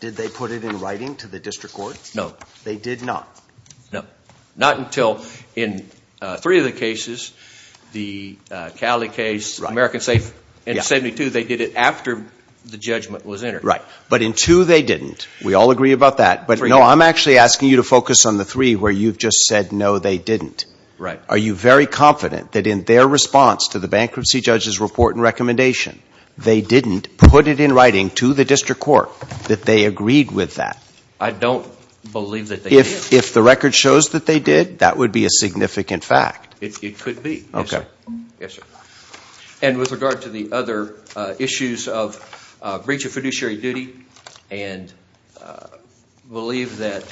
Did they put it in writing to the district court? No, they did not. Not until in three of the cases, the Cali case, American Safety, and 72. They did it after the judgment was entered. But in two, they didn't. We all agree about that. But no, I'm actually asking you to focus on the three where you've just said no, they didn't. Are you very confident that in their response to the bankruptcy judge's report and recommendation, they didn't put it in writing to the district court that they agreed with that? I don't believe that they did. If the record shows that they did, that would be a significant fact. It could be. Okay. Yes, sir. And with regard to the other issues of breach of fiduciary duty, and believe that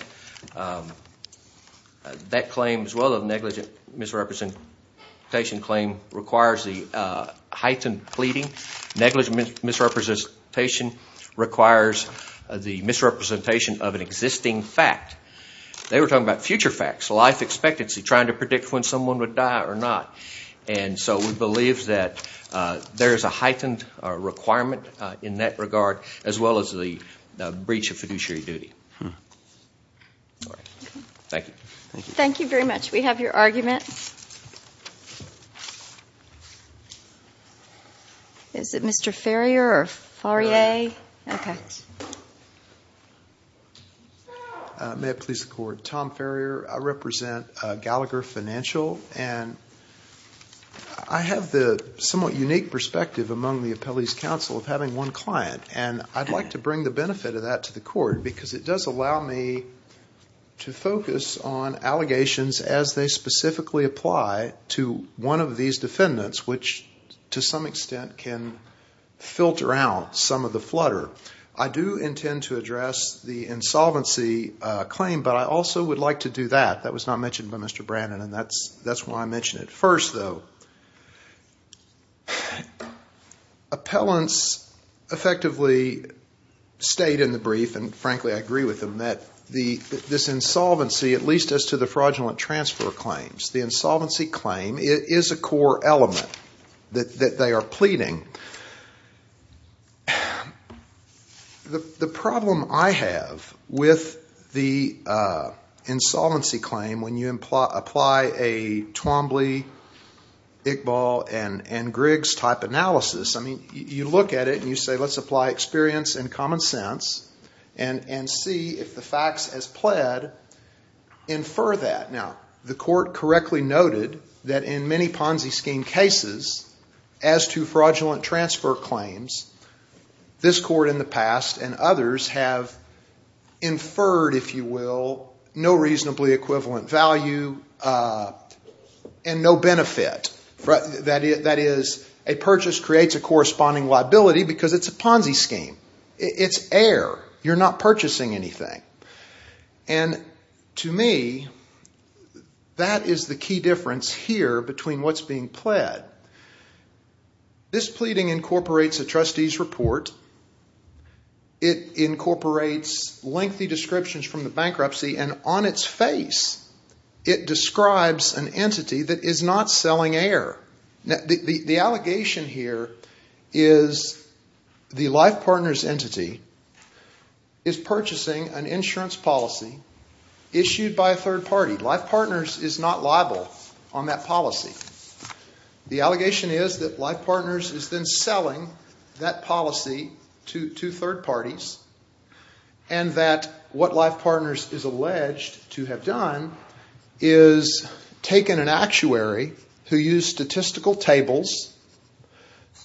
that claim as well as negligent misrepresentation claim requires the heightened pleading. Negligent misrepresentation requires the misrepresentation of an existing fact. They were talking about future facts, life expectancy, trying to predict when someone would die or not. And so we believe that there is a heightened requirement in that regard as well as the breach of fiduciary duty. Thank you. Thank you very much. We have your argument. Is it Mr. Farrier or Farrier? May I please record? Tom Farrier. I represent Gallagher Financial, and I have the somewhat unique perspective among the appellees' counsel of having one client, and I'd like to bring the benefit of that to the court, because it does allow me to focus on allegations as they specifically apply to one of these defendants, which to some extent can filter out some of the flutter. I do intend to address the insolvency claim, but I also would like to do that. That was not mentioned by Mr. Brannon, and that's why I mention it first, though. Appellants effectively state in the brief, and frankly I agree with them, that this insolvency, at least as to the fraudulent transfer claims, the insolvency claim is a core element that they are pleading. The problem I have with the insolvency claim when you apply a Twombly, Big Ball, and Griggs type analysis, you look at it and you say let's apply experience and common sense and see if the facts as pled infer that. Now, the court correctly noted that in many Ponzi scheme cases, as to fraudulent transfer claims, this court in the past and others have inferred, if you will, no reasonably equivalent value and no benefit. That is, a purchase creates a corresponding liability because it's a Ponzi scheme. It's air. You're not purchasing anything. To me, that is the key difference here between what's being pled. This pleading incorporates a trustee's report. It incorporates lengthy descriptions from the bankruptcy, and on its face it describes an entity that is not selling air. The allegation here is the Life Partners entity is purchasing an insurance policy issued by a third party. Life Partners is not liable on that policy. The allegation is that Life Partners has been selling that policy to two third parties and that what Life Partners is alleged to have done is taken an actuary to use statistical tables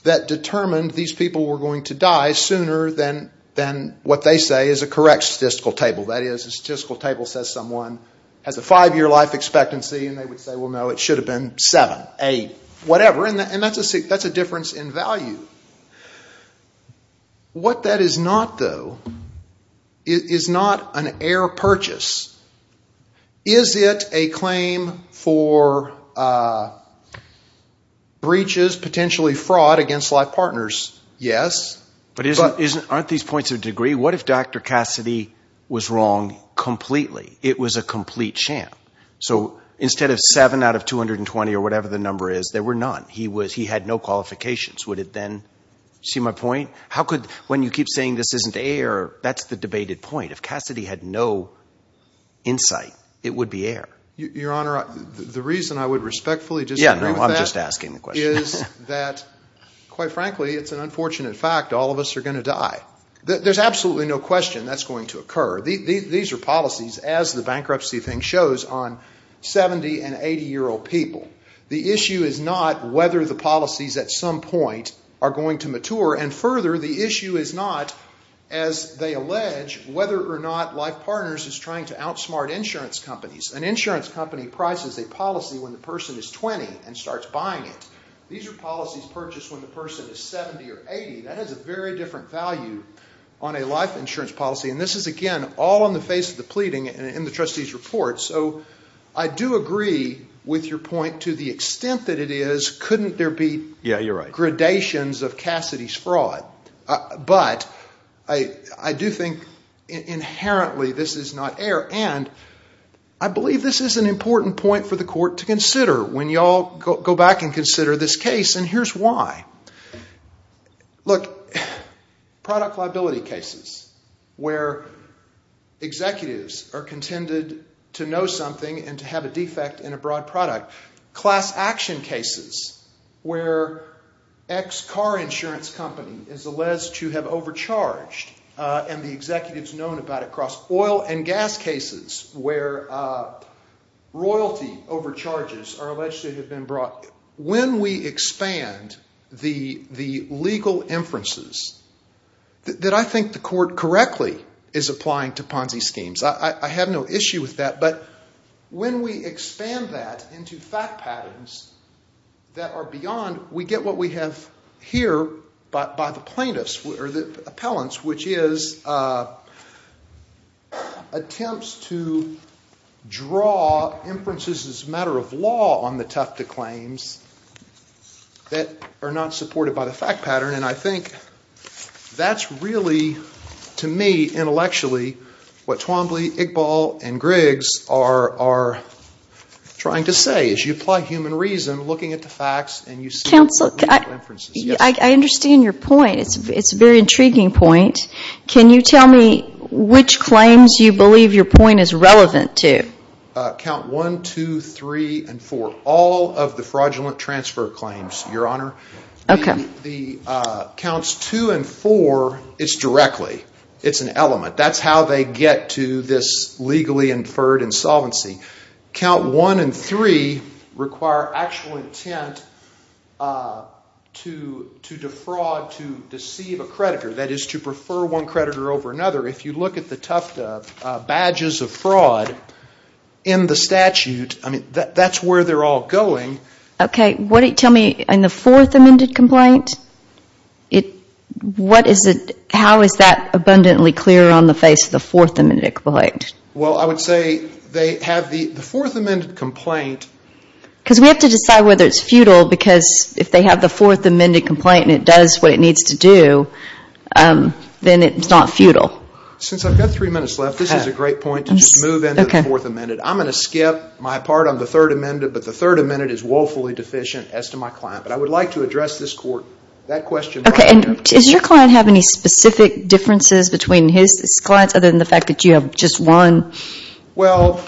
that determined these people were going to die sooner than what they say is a correct statistical table. That is, a statistical table says someone has a five-year life expectancy, and they would say, well, no, it should have been seven, eight, whatever, and that's a difference in value. What that is not, though, is not an air purchase. Is it a claim for breaches, potentially fraud, against Life Partners? Yes. But aren't these points of degree? What if Dr. Cassidy was wrong completely? It was a complete sham. So instead of seven out of 220 or whatever the number is, there were none. He had no qualifications. Would it then seem a point? When you keep saying this isn't air, that's the debated point. If Cassidy had no insight, it would be air. Your Honor, the reason I would respectfully disagree with that is that, quite frankly, it's an unfortunate fact. All of us are going to die. There's absolutely no question that's going to occur. These are policies, as the bankruptcy thing shows, on 70- and 80-year-old people. The issue is not whether the policies at some point are going to mature. And further, the issue is not, as they allege, whether or not Life Partners is trying to outsmart insurance companies. An insurance company prices a policy when the person is 20 and starts buying it. These are policies purchased when the person is 70 or 80. That has a very different value on a life insurance policy. And this is, again, all on the face of the pleading in the trustee's report. So I do agree with your point to the extent that it is. Couldn't there be gradations of Cassidy's fraud? But I do think inherently this is not air. And I believe this is an important point for the court to consider when you all go back and consider this case. And here's why. Look, product liability cases where executives are contended to know something and to have a defect in a broad product. Class action cases where X car insurance company is alleged to have overcharged and the executive is known about it across oil and gas cases where royalty overcharges are alleged to have been brought. When we expand the legal inferences that I think the court correctly is applying to Ponzi schemes, I have no issue with that, but when we expand that into fact patterns that are beyond, we get what we have here by the plaintiffs or the appellants, which is attempts to draw inferences as a matter of law on the Tufta claims that are not supported by the fact pattern. And I think that's really, to me, intellectually, what Twombly, Iqbal, and Griggs are trying to say. As you apply human reason, looking at the facts and you see inferences. I understand your point. It's a very intriguing point. Can you tell me which claims you believe your point is relevant to? Count one, two, three, and four. All of the fraudulent transfer claims, Your Honor. Counts two and four, it's directly. It's an element. That's how they get to this legally inferred insolvency. Count one and three require actual intent to defraud, to deceive a creditor. That is to prefer one creditor over another. If you look at the Tufta badges of fraud in the statute, that's where they're all going. Okay. Tell me in the fourth amended complaint, how is that abundantly clear on the face of the fourth amended complaint? Well, I would say they have the fourth amended complaint. Because we have to decide whether it's futile because if they have the fourth amended complaint and it does what it needs to do, then it's not futile. Since I've got three minutes left, this is a great point to just move into the fourth amended. I'm going to skip my part on the third amended, but the third amended is woefully deficient as to my client. But I would like to address this court, that question right there. Okay. Does your client have any specific differences between his clients other than the fact that you have just one? Well,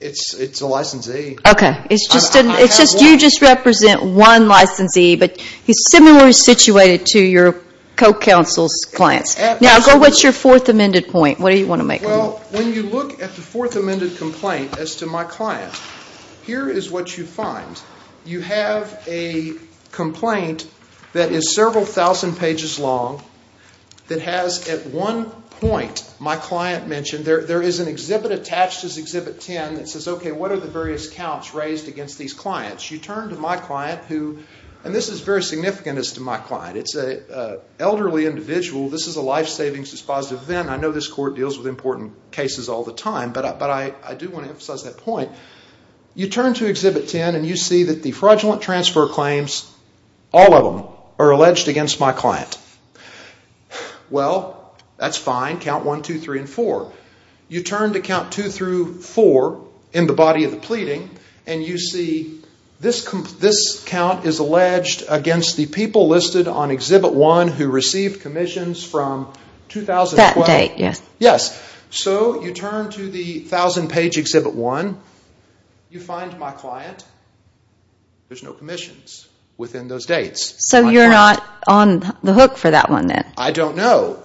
it's a licensee. Okay. It says you just represent one licensee, but it's similarly situated to your co-counsel's client. Now, what's your fourth amended point? What do you want to make of it? Well, when you look at the fourth amended complaint as to my client, here is what you find. You have a complaint that is several thousand pages long that has at one point, my client mentioned, there is an exhibit attached to this exhibit 10 that says, okay, what are the various counts raised against these clients? You turn to my client, and this is very significant as to my client. It's an elderly individual. This is a life-savings dispositive event. I know this court deals with important cases all the time, but I do want to emphasize that point. You turn to exhibit 10, and you see that the fraudulent transfer claims, all of them, are alleged against my client. Well, that's fine. Count 1, 2, 3, and 4. You turn to count 2 through 4 in the body of the pleading, and you see this count is alleged against the people listed on exhibit 1 who received commissions from 2012. That date, yes. So, you turn to the thousand-page exhibit 1. You find my client. There's no commissions within those dates. So, you're not on the hook for that one, then? I don't know.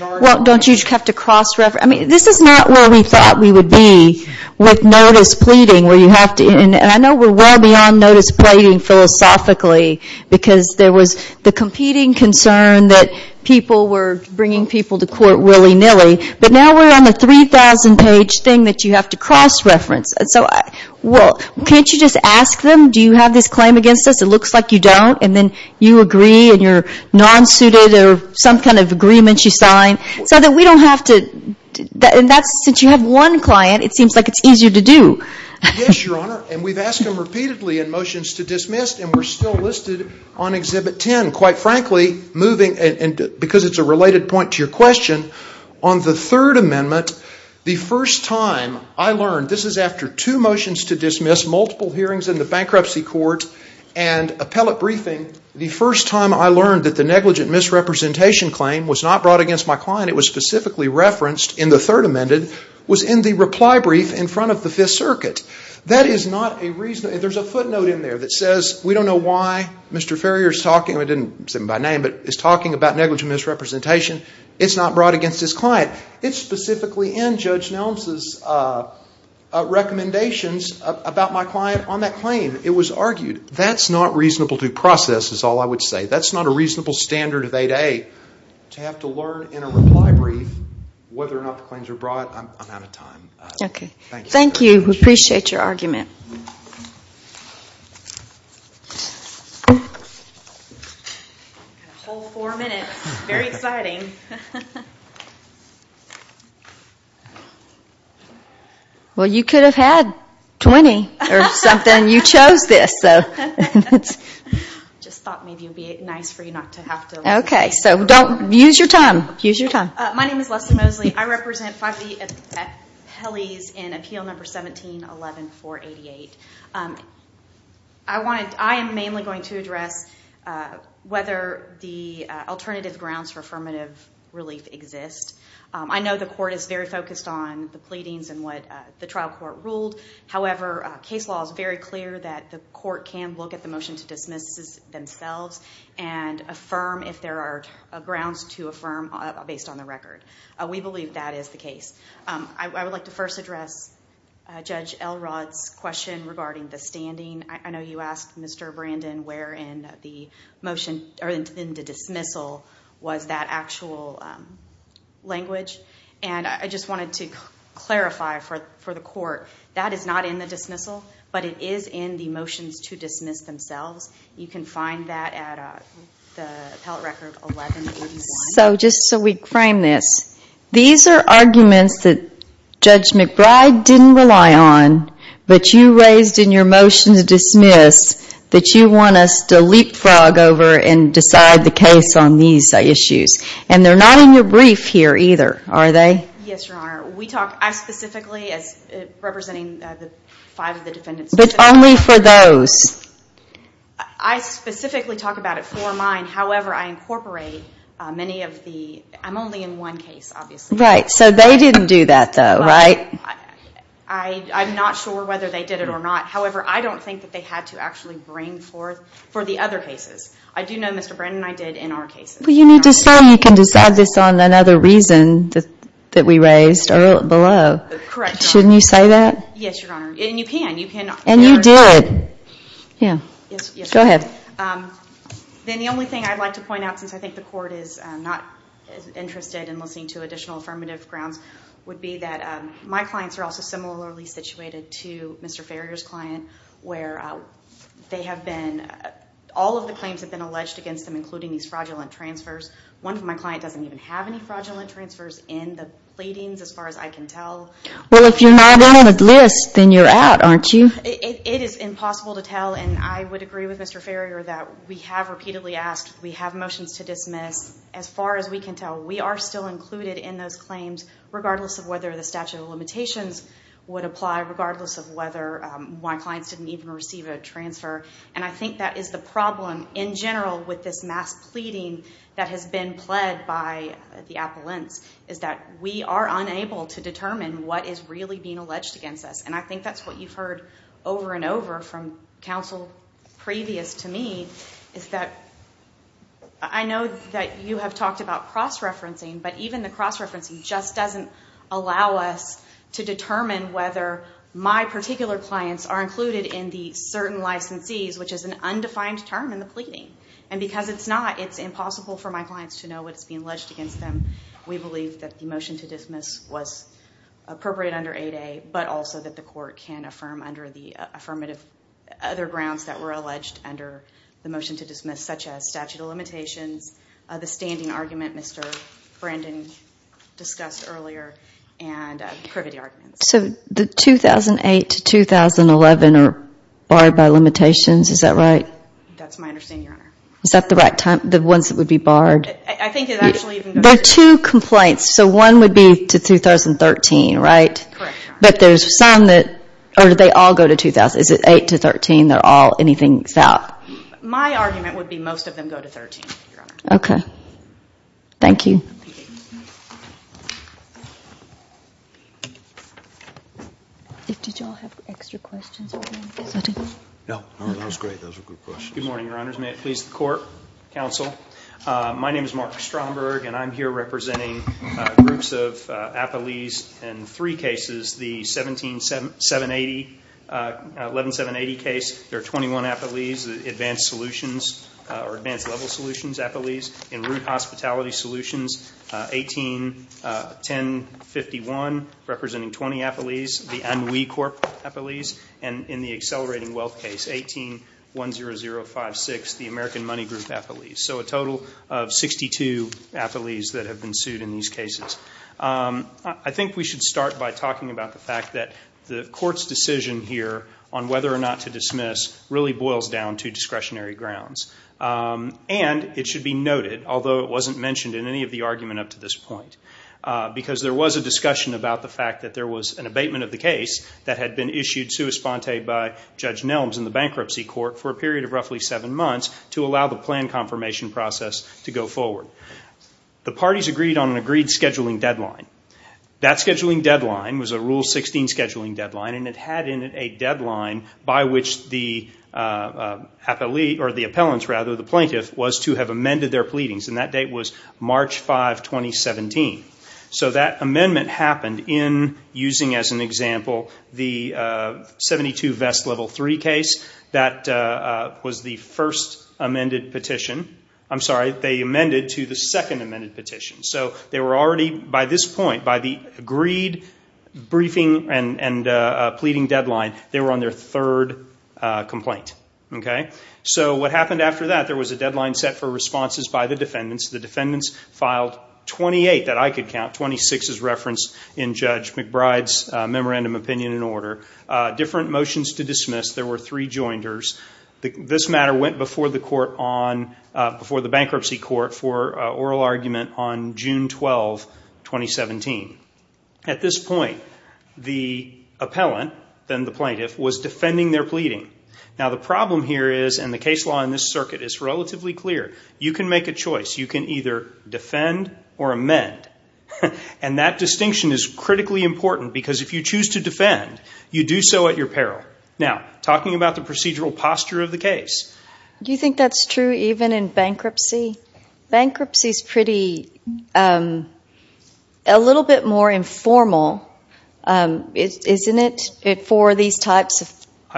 Well, don't you just have to cross-refer? I mean, this is not where we thought we would be with notice pleading, where you have to, and I know we're well beyond notice pleading philosophically, because there was the competing concern that people were bringing people to court willy-nilly, but now we're on the 3,000-page thing that you have to cross-reference. So, can't you just ask them, do you have this claim against us? It looks like you don't, and then you agree, and you're non-suited, or some kind of agreement you sign, so that we don't have to, and since you have one client, it seems like it's easier to do. Yes, Your Honor, and we've asked them repeatedly in motions to dismiss, and we're still listed on Exhibit 10, quite frankly, because it's a related point to your question. On the Third Amendment, the first time I learned, this is after two motions to dismiss, multiple hearings in the bankruptcy court, and appellate briefing, the first time I learned that the negligent misrepresentation claim was not brought against my client, it was specifically referenced in the Third Amendment, was in the reply brief in front of the Fifth Circuit. There's a footnote in there that says, we don't know why Mr. Ferrier is talking about negligent misrepresentation, it's not brought against his client. It's specifically in Judge Nelson's recommendations about my client on that claim. It was argued. That's not reasonable to process, is all I would say. That's not a reasonable standard of 8A. To have to learn in a reply brief whether or not the claims are brought, I'm out of time. Okay. Thank you. We appreciate your argument. Four minutes. Very exciting. Well, you could have had 20 or something. You chose this. I just thought maybe it would be nice for you not to have to. Okay. Use your time. Use your time. My name is Leslie Mosley. I represent 5E at Pelley's in Appeal No. 17-11-488. I am mainly going to address whether the alternative grounds for affirmative relief exist. I know the court is very focused on the pleadings and what the trial court ruled. However, case law is very clear that the court can look at the motions of dismissal themselves and affirm if there are grounds to affirm based on the record. We believe that is the case. I would like to first address Judge Elrod's question regarding the standing. I know you asked Mr. Brandon where in the dismissal was that actual language. I just wanted to clarify for the court, that is not in the dismissal, but it is in the motions to dismiss themselves. You can find that at the appellate record 11-81. So, just so we frame this, these are arguments that Judge McBride didn't rely on, but you raised in your motion to dismiss, that you want us to leapfrog over and decide the case on these issues. And they're not in the brief here either, are they? Yes, Your Honor. We talked specifically as representing five of the defendants. But only for those? I specifically talk about it for mine. However, I incorporate many of the, I'm only in one case, obviously. Right. So, they didn't do that though, right? I'm not sure whether they did it or not. However, I don't think that they had to actually bring forth for the other cases. I do know Mr. Brandon and I did in our cases. But you need to say we can decide this on another reason that we raised below. Correct. Shouldn't you say that? Yes, Your Honor. And you can. And you did. Yes. Go ahead. Then the only thing I'd like to point out, because I think the court is not interested in listening to additional affirmative grounds, would be that my clients are also similarly situated to Mr. Ferrier's client, where they have been, all of the claims have been alleged against them, including these fraudulent transfers. One of my clients doesn't even have any fraudulent transfers in the plating, as far as I can tell. Well, if you're not on the list, then you're out, aren't you? It is impossible to tell. And I would agree with Mr. Ferrier that we have repeatedly asked. We have motions to dismiss. As far as we can tell, we are still included in those claims, regardless of whether the statute of limitations would apply, regardless of whether my clients didn't even receive a transfer. And I think that is the problem, in general, with this mass pleading that has been pled by the appellant, is that we are unable to determine what is really being alleged against us. And I think that's what you've heard over and over from counsel previous to me, is that I know that you have talked about cross-referencing, but even the cross-referencing just doesn't allow us to determine whether my particular clients are included in the certain licensees, which is an undefined term in the pleading. And because it's not, it's impossible for my clients to know what's being alleged against them. We believe that the motion to dismiss was appropriate under 8A, but also that the court can affirm under the affirmative other grounds that were alleged under the motion to dismiss, such as statute of limitations, the standing argument Mr. Brandon discussed earlier, and the privity argument. So 2008 to 2011 are barred by limitations, is that right? That's my understanding, Your Honor. Is that the ones that would be barred? There are two complaints, so one would be to 2013, right? Correct. But there's some that, or do they all go to 2013? Is it 8 to 13, they're all anything south? My argument would be most of them go to 13, Your Honor. Okay. Thank you. Good morning, Your Honors. May it please the court, counsel. My name is Mark Stromberg, and I'm here representing groups of affilees in three cases. The 11-780 case, there are 21 affilees. The advanced solutions or advanced level solutions affilees. In root hospitality solutions, 18-1051, representing 20 affilees. The NWE Corp affilees. And in the accelerating wealth case, 18-10056, the American Money Group affilees. So a total of 62 affilees that have been sued in these cases. I think we should start by talking about the fact that the court's decision here on whether or not to dismiss really boils down to discretionary grounds. And it should be noted, although it wasn't mentioned in any of the argument up to this point, because there was a discussion about the fact that there was an abatement of the case that had been issued sui sponte by Judge Nelms in the bankruptcy court for a period of roughly seven months to allow the plan confirmation process to go forward. The parties agreed on an agreed scheduling deadline. That scheduling deadline was a Rule 16 scheduling deadline, and it had in it a deadline by which the plaintiff was to have amended their pleadings. And that date was March 5, 2017. So that amendment happened in using, as an example, the 72 Vest Level 3 case. That was the first amended petition. I'm sorry, they amended to the second amended petition. So they were already, by this point, by the agreed briefing and pleading deadline, they were on their third complaint. So what happened after that, there was a deadline set for responses by the defendants. The defendants filed 28 that I could count. 26 is referenced in Judge McBride's Memorandum of Opinion and Order. Different motions to dismiss. There were three jointers. This matter went before the bankruptcy court for oral argument on June 12, 2017. At this point, the appellant, then the plaintiff, was defending their pleading. Now the problem here is, and the case law in this circuit is relatively clear, you can make a choice. You can either defend or amend. And that distinction is critically important because if you choose to defend, you do so at your peril. Now, talking about the procedural posture of the case. Do you think that's true even in bankruptcy? Bankruptcy is pretty, a little bit more informal, isn't it, for these types of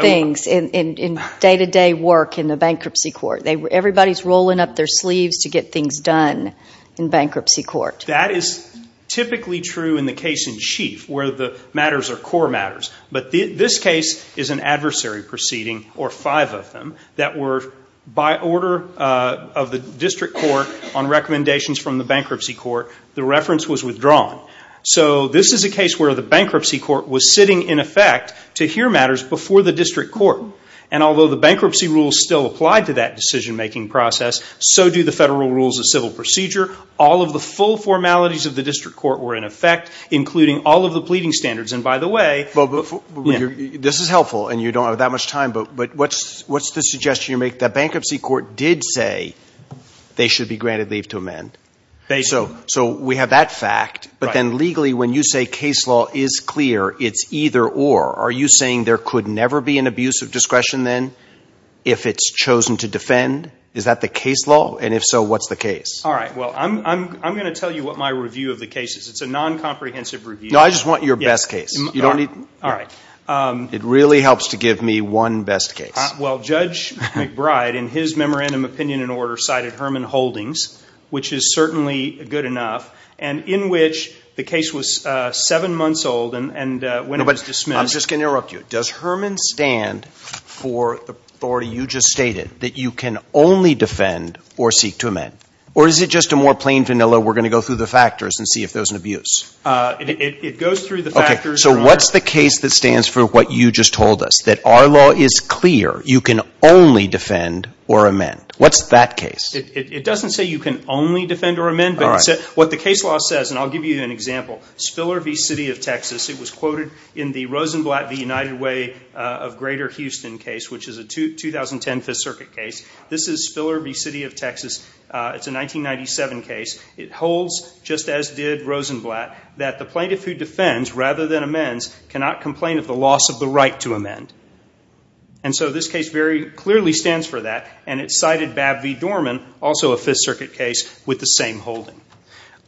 things in day-to-day work in the bankruptcy court. Everybody's rolling up their sleeves to get things done in bankruptcy court. That is typically true in the case in chief where the matters are core matters. But this case is an adversary proceeding, or five of them, that were by order of the district court on recommendations from the bankruptcy court. The reference was withdrawn. So this is a case where the bankruptcy court was sitting, in effect, to hear matters before the district court. And although the bankruptcy rules still apply to that decision-making process, so do the federal rules of civil procedure. All of the full formalities of the district court were in effect, including all of the pleading standards. And by the way, this is helpful, and you don't have that much time, but what's the suggestion you make? The bankruptcy court did say they should be granted leave to amend. So we have that fact. But then legally, when you say case law is clear, it's either or. Are you saying there could never be an abuse of discretion then if it's chosen to defend? Is that the case law? And if so, what's the case? All right. Well, I'm going to tell you what my review of the case is. It's a non-comprehensive review. No, I just want your best case. All right. It really helps to give me one best case. Well, Judge McBride, in his memorandum opinion and order, cited Herman Holdings, which is certainly good enough, and in which the case was seven months old and when it was dismissed. I'm just going to interrupt you. Does Herman stand for the authority you just stated, that you can only defend or seek to amend? Or is it just a more plain, vanilla, we're going to go through the factors and see if there's an abuse? It goes through the factors. So what's the case that stands for what you just told us, that our law is clear, you can only defend or amend? What's that case? It doesn't say you can only defend or amend. What the case law says, and I'll give you an example. Spiller v. City of Texas, it was quoted in the Rosenblatt v. United Way of Greater Houston case, which is a 2010 Fifth Circuit case. This is Spiller v. City of Texas. It's a 1997 case. It holds, just as did Rosenblatt, that the plaintiff, who defends rather than amends, cannot complain of the loss of the right to amend. And so this case very clearly stands for that, and it cited Babb v. Dorman, also a Fifth Circuit case, with the same holding.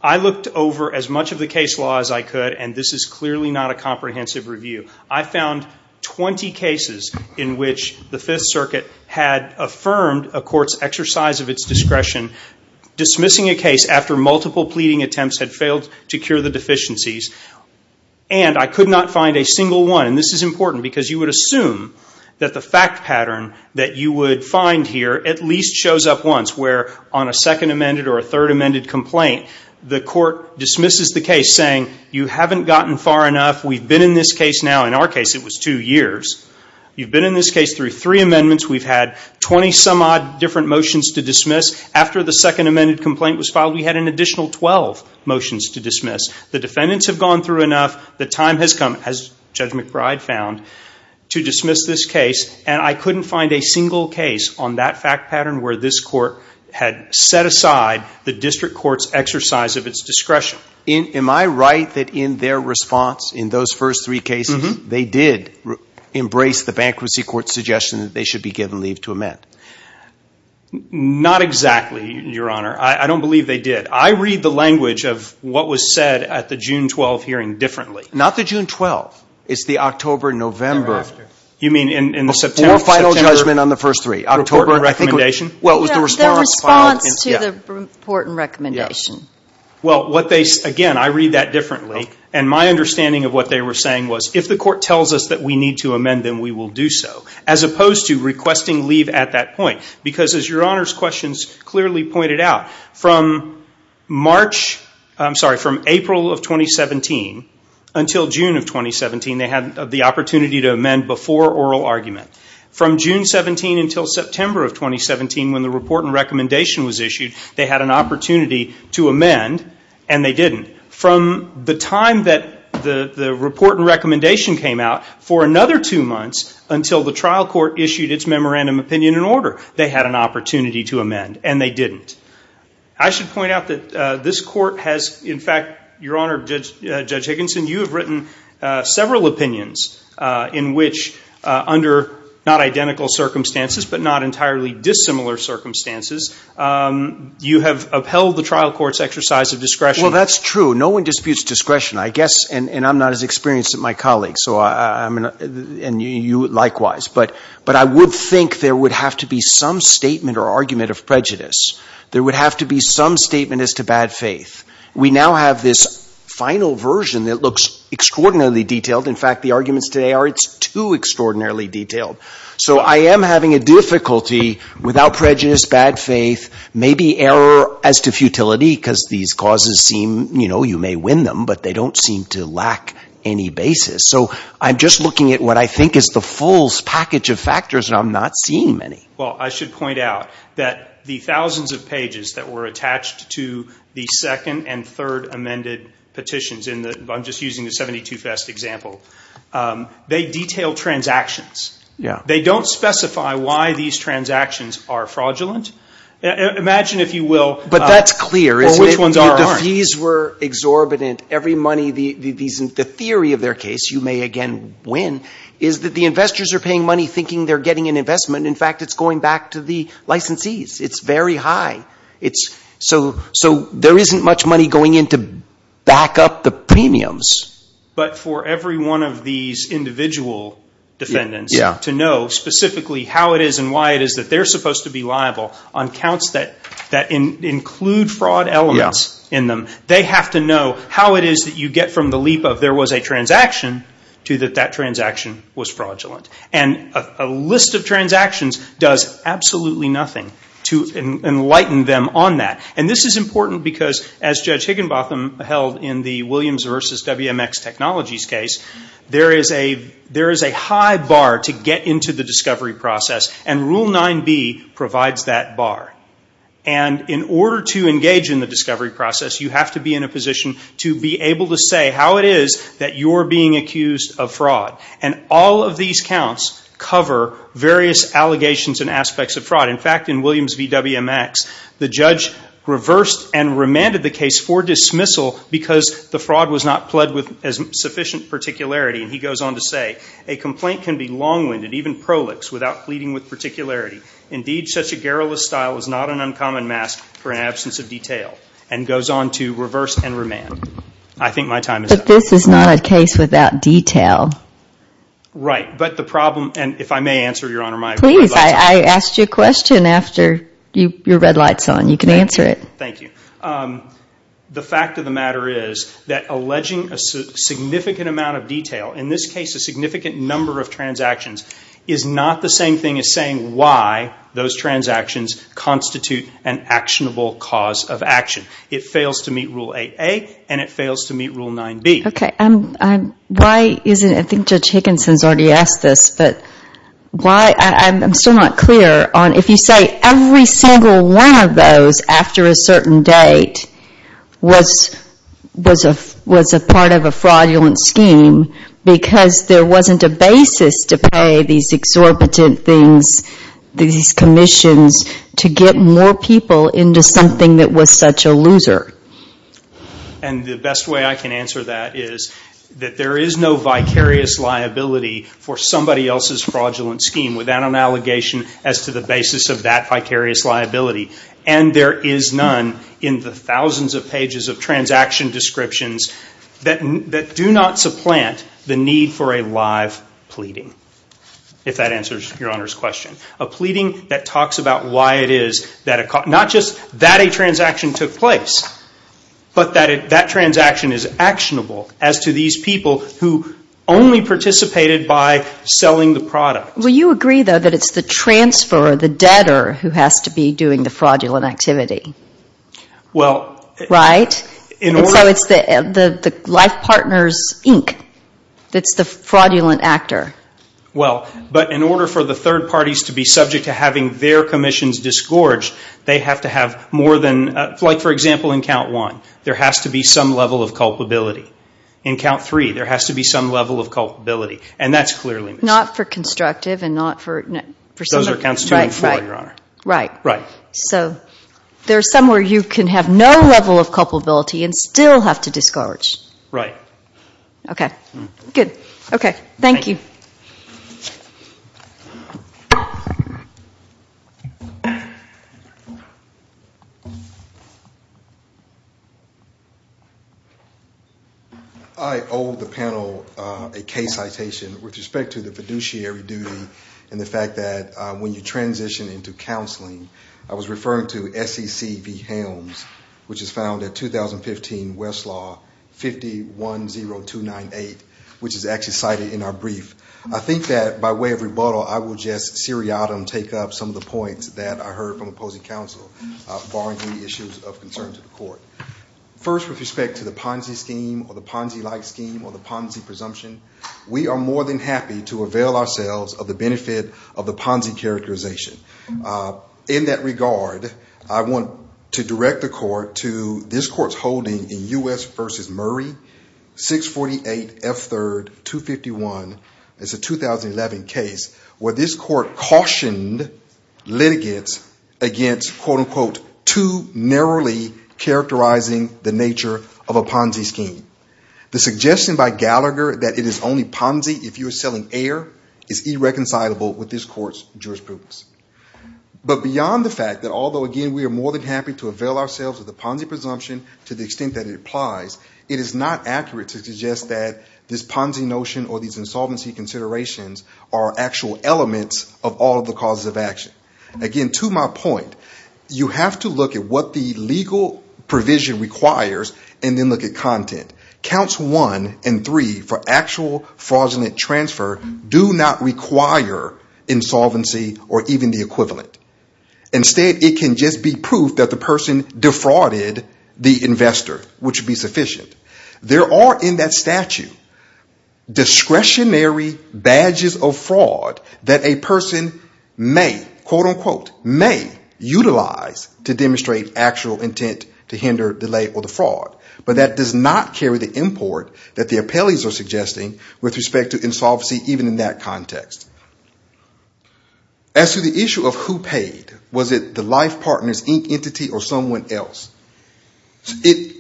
I looked over as much of the case law as I could, and this is clearly not a comprehensive review. I found 20 cases in which the Fifth Circuit had affirmed a court's exercise of its discretion, dismissing a case after multiple pleading attempts had failed to cure the deficiencies, and I could not find a single one. And this is important because you would assume that the fact pattern that you would find here at least shows up once, where on a second amended or a third amended complaint, the court dismisses the case saying, you haven't gotten far enough. We've been in this case now. In our case, it was two years. You've been in this case through three amendments. We've had 20-some-odd different motions to dismiss. After the second amended complaint was filed, we had an additional 12 motions to dismiss. The defendants have gone through enough. The time has come, as Judge McBride found, to dismiss this case, and I couldn't find a single case on that fact pattern where this court had set aside the district court's exercise of its discretion. Am I right that in their response, in those first three cases, they did embrace the bankruptcy court's suggestion that they should be given leave to amend? Not exactly, Your Honor. I don't believe they did. I read the language of what was said at the June 12 hearing differently. Not the June 12. It's the October, November. You mean in the September? The final judgment on the first three, October recommendation? The response to the report and recommendation. Again, I read that differently, and my understanding of what they were saying was, if the court tells us that we need to amend, then we will do so, as opposed to requesting leave at that point. Because as Your Honor's questions clearly pointed out, from April of 2017 until June of 2017, they had the opportunity to amend before oral argument. From June 17 until September of 2017, when the report and recommendation was issued, they had an opportunity to amend, and they didn't. From the time that the report and recommendation came out, for another two months, until the trial court issued its memorandum opinion and order, they had an opportunity to amend, and they didn't. I should point out that this court has, in fact, Your Honor, Judge Higginson, you have written several opinions in which, under not identical circumstances, but not entirely dissimilar circumstances, you have upheld the trial court's exercise of discretion. Well, that's true. No one disputes discretion. I guess, and I'm not as experienced as my colleagues, and you likewise, but I would think there would have to be some statement or argument of prejudice. There would have to be some statement as to bad faith. We now have this final version that looks extraordinarily detailed. In fact, the arguments today are it's too extraordinarily detailed. So I am having a difficulty without prejudice, bad faith, maybe error as to futility, because these causes seem, you know, you may win them, but they don't seem to lack any basis. So I'm just looking at what I think is the full package of factors, and I'm not seeing many. Well, I should point out that the thousands of pages that were attached to the second and third amended petitions, and I'm just using the 72-fest example, they detail transactions. They don't specify why these transactions are fraudulent. Imagine, if you will, which ones aren't. But that's clear. If these were exorbitant, every money, the theory of their case, you may again win, is that the investors are paying money thinking they're getting an investment. In fact, it's going back to the licensees. It's very high. So there isn't much money going in to back up the premiums. But for every one of these individual defendants to know specifically how it is and why it is that they're supposed to be liable on counts that include fraud elements in them, they have to know how it is that you get from the leap of there was a transaction to that that transaction was fraudulent. And a list of transactions does absolutely nothing to enlighten them on that. And this is important because, as Judge Higginbotham held in the Williams v. WMX Technologies case, there is a high bar to get into the discovery process, and Rule 9b provides that bar. And in order to engage in the discovery process, you have to be in a position to be able to say how it is that you're being accused of fraud. And all of these counts cover various allegations and aspects of fraud. In fact, in Williams v. WMX, the judge reversed and remanded the case for dismissal because the fraud was not fled with sufficient particularity. And he goes on to say, a complaint can be long-winded, even prolix, without pleading with particularity. Indeed, such a garrulous style is not an uncommon mask for an absence of detail, and goes on to reverse and remand. I think my time is up. But this is not a case without detail. Right, but the problem, and if I may answer, Your Honor, my apologies. Please, I asked you a question after your red light's on. You can answer it. Thank you. The fact of the matter is that alleging a significant amount of detail, in this case a significant number of transactions, is not the same thing as saying why those transactions constitute an actionable cause of action. It fails to meet Rule 8a, and it fails to meet Rule 9b. Okay, I think Judge Higginson's already asked this, but I'm still not clear. If you say every single one of those after a certain date was a part of a fraudulent scheme because there wasn't a basis to pay these exorbitant things, these commissions, to get more people into something that was such a loser. And the best way I can answer that is that there is no vicarious liability for somebody else's fraudulent scheme without an allegation as to the basis of that vicarious liability. And there is none in the thousands of pages of transaction descriptions that do not supplant the need for a live pleading, if that answers Your Honor's question. A pleading that talks about why it is, not just that a transaction took place, but that that transaction is actionable as to these people who only participated by selling the product. Well, you agree though that it's the transfer, the debtor, who has to be doing the fraudulent activity, right? Because it's the life partner's ink that's the fraudulent actor. Well, but in order for the third parties to be subject to having their commissions disgorged, they have to have more than, like for example in count one, there has to be some level of culpability. In count three, there has to be some level of culpability, and that's clearly. Not for constructive and not for... Those are counts two and four, Your Honor. Right. Right. So there's some where you can have no level of culpability and still have to disgorge. Right. Okay. Good. Okay. Thank you. I owe the panel a case citation with respect to the fiduciary duty and the fact that when you transition into counseling, I was referring to SECB Helms, which is found in 2015 Westlaw 510298, which is actually cited in our brief. I think that by way of rebuttal, I will just seriatim take up some of the points that I heard from opposing counsel, barring any issues of concern to the court. First, with respect to the Ponzi scheme or the Ponzi-like scheme or the Ponzi presumption, we are more than happy to avail ourselves of the benefit of the Ponzi characterization. In that regard, I want to direct the court to this court's holding in U.S. v. Murray 648 F. 3rd 251. It's a 2011 case where this court cautioned litigants against, quote, unquote, too narrowly characterizing the nature of a Ponzi scheme. The suggestion by Gallagher that it is only Ponzi if you are selling air is irreconcilable with this court's jurisprudence. But beyond the fact that although, again, we are more than happy to avail ourselves of the Ponzi presumption to the extent that it applies, it is not accurate to suggest that this Ponzi notion or these insolvency considerations are actual elements of all the causes of action. Again, to my point, you have to look at what the legal provision requires and then look at content. Counts one and three for actual fraudulent transfer do not require insolvency or even the equivalent. Instead, it can just be proof that the person defrauded the investor, which would be sufficient. There are in that statute discretionary badges of fraud that a person may, quote, unquote, may utilize to demonstrate actual intent to hinder, delay, or defraud. But that does not carry the import that the appellees are suggesting with respect to insolvency even in that context. As to the issue of who paid, was it the life partner's entity or someone else?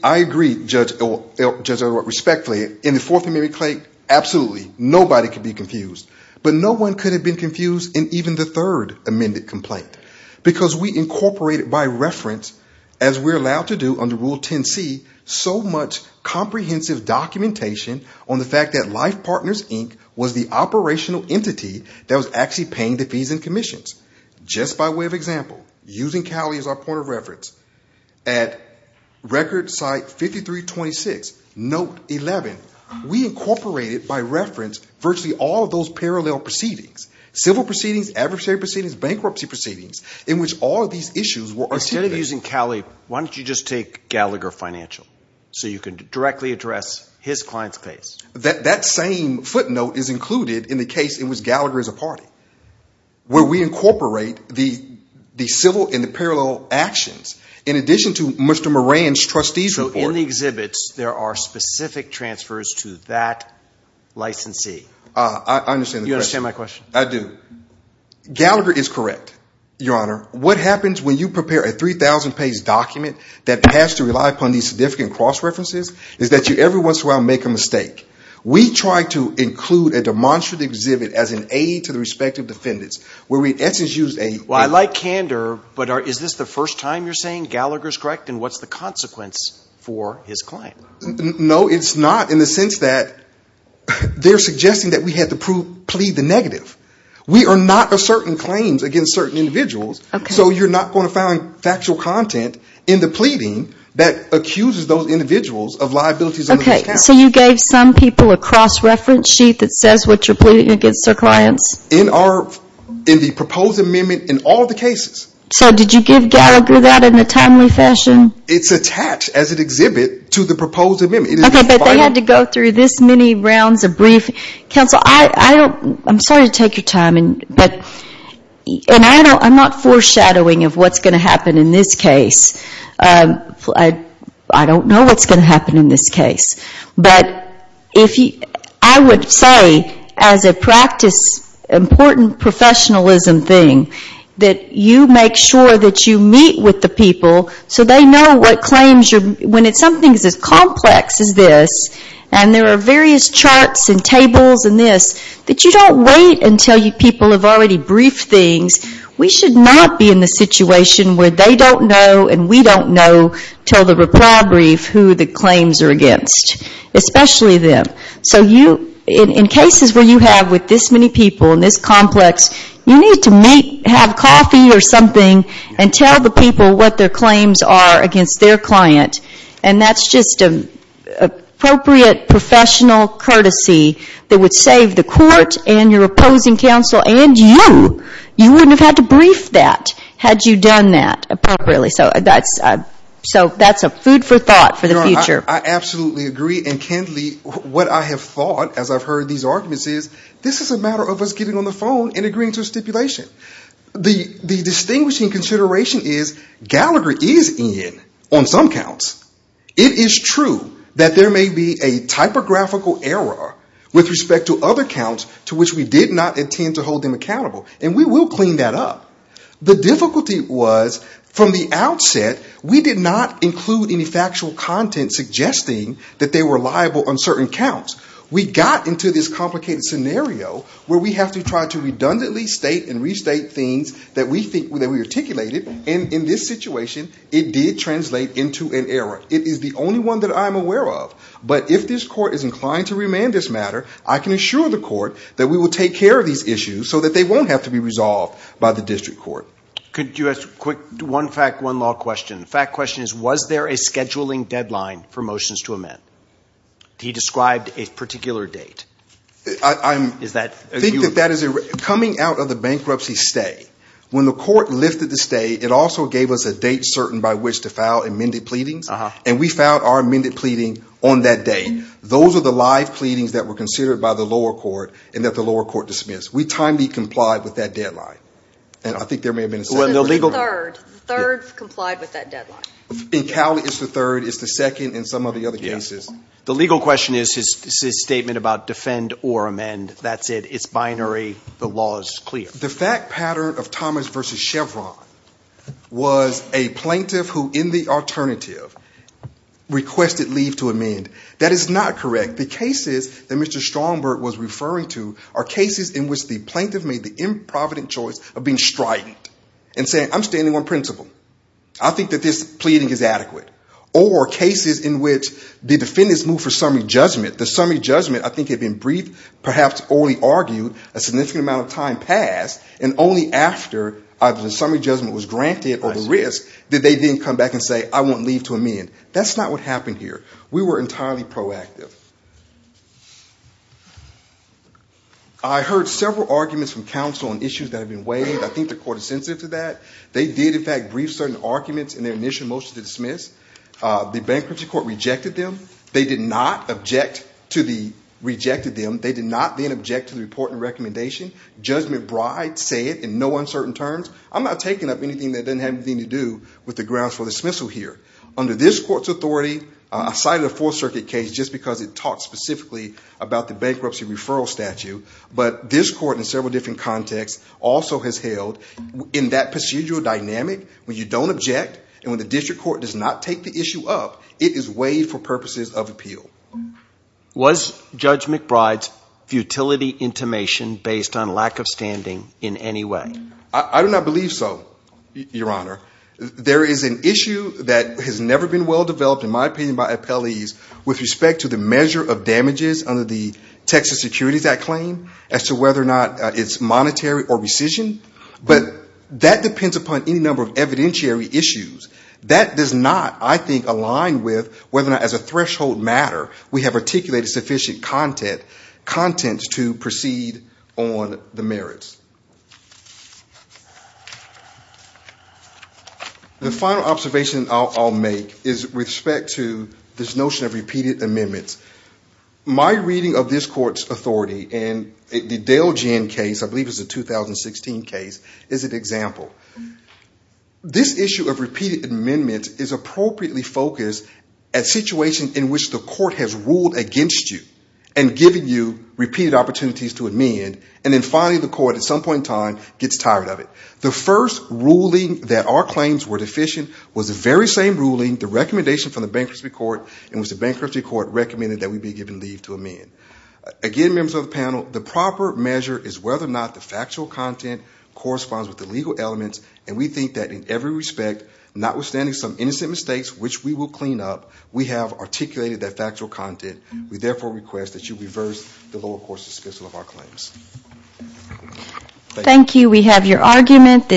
I agree, Judge Elwalt, respectfully, in the Fourth Amendment claim, absolutely, nobody can be confused. But no one could have been confused in even the Third Amendment complaint because we incorporated by reference, as we're allowed to do under Rule 10C, so much comprehensive documentation on the fact that Life Partners, Inc. was the operational entity that was actually paying the fees and commissions. Just by way of example, using Cali as our point of reference, at Record Site 5326, Note 11, we incorporated by reference virtually all of those parallel proceedings, civil proceedings, adversary proceedings, bankruptcy proceedings, in which all of these issues were attempted. Instead of using Cali, why don't you just take Gallagher Financial so you can directly address his client's case? That same footnote is included in the case in which Gallagher is a party, where we incorporate the civil and the parallel actions in addition to Mr. Moran's trustees report. So in the exhibits, there are specific transfers to that licensee. I understand the question. You understand my question? I do. Gallagher is correct, Your Honor. What happens when you prepare a 3,000-page document that has to rely upon these significant cross-references is that you every once in a while make a mistake. We try to include a demonstrative exhibit as an aid to the respective defendants. Well, I like candor, but is this the first time you're saying Gallagher's correct, and what's the consequence for his claim? No, it's not, in the sense that they're suggesting that we have to plead the negative. We are not asserting claims against certain individuals, so you're not going to find factual content in the pleading that accuses those individuals of liabilities. Okay, so you gave some people a cross-reference sheet that says what you're pleading against their client? In the proposed amendment in all the cases. So did you give Gallagher that in a timely fashion? It's attached as an exhibit to the proposed amendment. Okay, but they had to go through this many rounds of briefing. Counsel, I'm sorry to take your time, and I'm not foreshadowing of what's going to happen in this case. I don't know what's going to happen in this case. But I would say as an important professionalism thing that you make sure that you meet with the people so they know what claims you're ‑‑ when it's something as complex as this, and there are various charts and tables and this, that you don't wait until people have already briefed things. We should not be in the situation where they don't know and we don't know until the reply brief who the claims are against, especially them. So in cases where you have with this many people and it's complex, you need to meet, have coffee or something, and tell the people what their claims are against their client. And that's just an appropriate professional courtesy that would save the court and your opposing counsel and you. You wouldn't have had to brief that had you done that appropriately. So that's a food for thought for the future. I absolutely agree. And, Kenley, what I have thought as I've heard these arguments is this is a matter of us getting on the phone and agreeing to a stipulation. The distinguishing consideration is Gallagher is in on some counts. It is true that there may be a typographical error with respect to other counts to which we did not intend to hold him accountable, and we will clean that up. The difficulty was from the outset, we did not include any factual content suggesting that they were liable on certain counts. We got into this complicated scenario where we have to try to redundantly state and restate things that we think that we articulated. And in this situation, it did translate into an error. It is the only one that I'm aware of. But if this court is inclined to remand this matter, I can assure the court that we will take care of these issues so that they won't have to be resolved by the district court. Could you ask one fact, one law question? The fact question is was there a scheduling deadline for motions to amend? He described a particular date. Coming out of the bankruptcy stay, when the court lifted the stay, it also gave us a date certain by which to file amended pleadings, and we filed our amended pleading on that day. Those are the live pleadings that were considered by the lower court and that the lower court dismissed. We timely complied with that deadline. The third complied with that deadline. In Cowley, it's the third, it's the second, and some of the other cases. The legal question is his statement about defend or amend. That's it. It's binary. The law is clear. The fact pattern of Thomas versus Chevron was a plaintiff who, in the alternative, requested leave to amend. That is not correct. The cases that Mr. Stromberg was referring to are cases in which the plaintiff made the improvident choice of being strident and saying, I'm standing on principle. I think that this pleading is adequate. Or cases in which the defendants moved for summary judgment. The summary judgment, I think, had been briefed, perhaps only argued, a significant amount of time passed, and only after the summary judgment was granted or risked did they then come back and say, I won't leave to amend. That's not what happened here. We were entirely proactive. I heard several arguments from counsel on issues that have been weighed. I think the court is sensitive to that. They did, in fact, brief certain arguments in their initial motion to dismiss. The bankruptcy court rejected them. They did not object to the rejected them. They did not then object to the report and recommendation. Judge McBride said, in no uncertain terms, I'm not taking up anything that doesn't have anything to do with the grounds for dismissal here. Under this court's authority, I cited a Fourth Circuit case just because it talks specifically about the bankruptcy referral statute. But this court, in several different contexts, also has held, in that procedural dynamic, when you don't object and when the district court does not take the issue up, it is weighed for purposes of appeal. Was Judge McBride's futility intimation based on lack of standing in any way? I do not believe so, Your Honor. There is an issue that has never been well developed, in my opinion, by appellees, with respect to the measure of damages under the Texas Security Act claim, as to whether or not it's monetary or rescission. But that depends upon any number of evidentiary issues. That does not, I think, align with whether or not, as a threshold matter, we have articulated sufficient content to proceed on the merits. The final observation I'll make is with respect to this notion of repeated amendments. My reading of this court's authority in the Dale Ginn case, I believe it was the 2016 case, is an example. This issue of repeated amendments is appropriately focused at situations in which the court has ruled against you and given you repeated opportunities to amend, and then finally the court, at some point in time, gets tired of it. The first ruling that our claims were deficient was the very same ruling, the recommendation from the Bankruptcy Court, in which the Bankruptcy Court recommended that we be given leave to amend. Again, members of the panel, the proper measure is whether or not the factual content corresponds with the legal elements, and we think that in every respect, notwithstanding some innocent mistakes, which we will clean up, we have articulated that factual content. We therefore request that you reverse the lower court's dismissal of our claims. Thank you. We have your argument.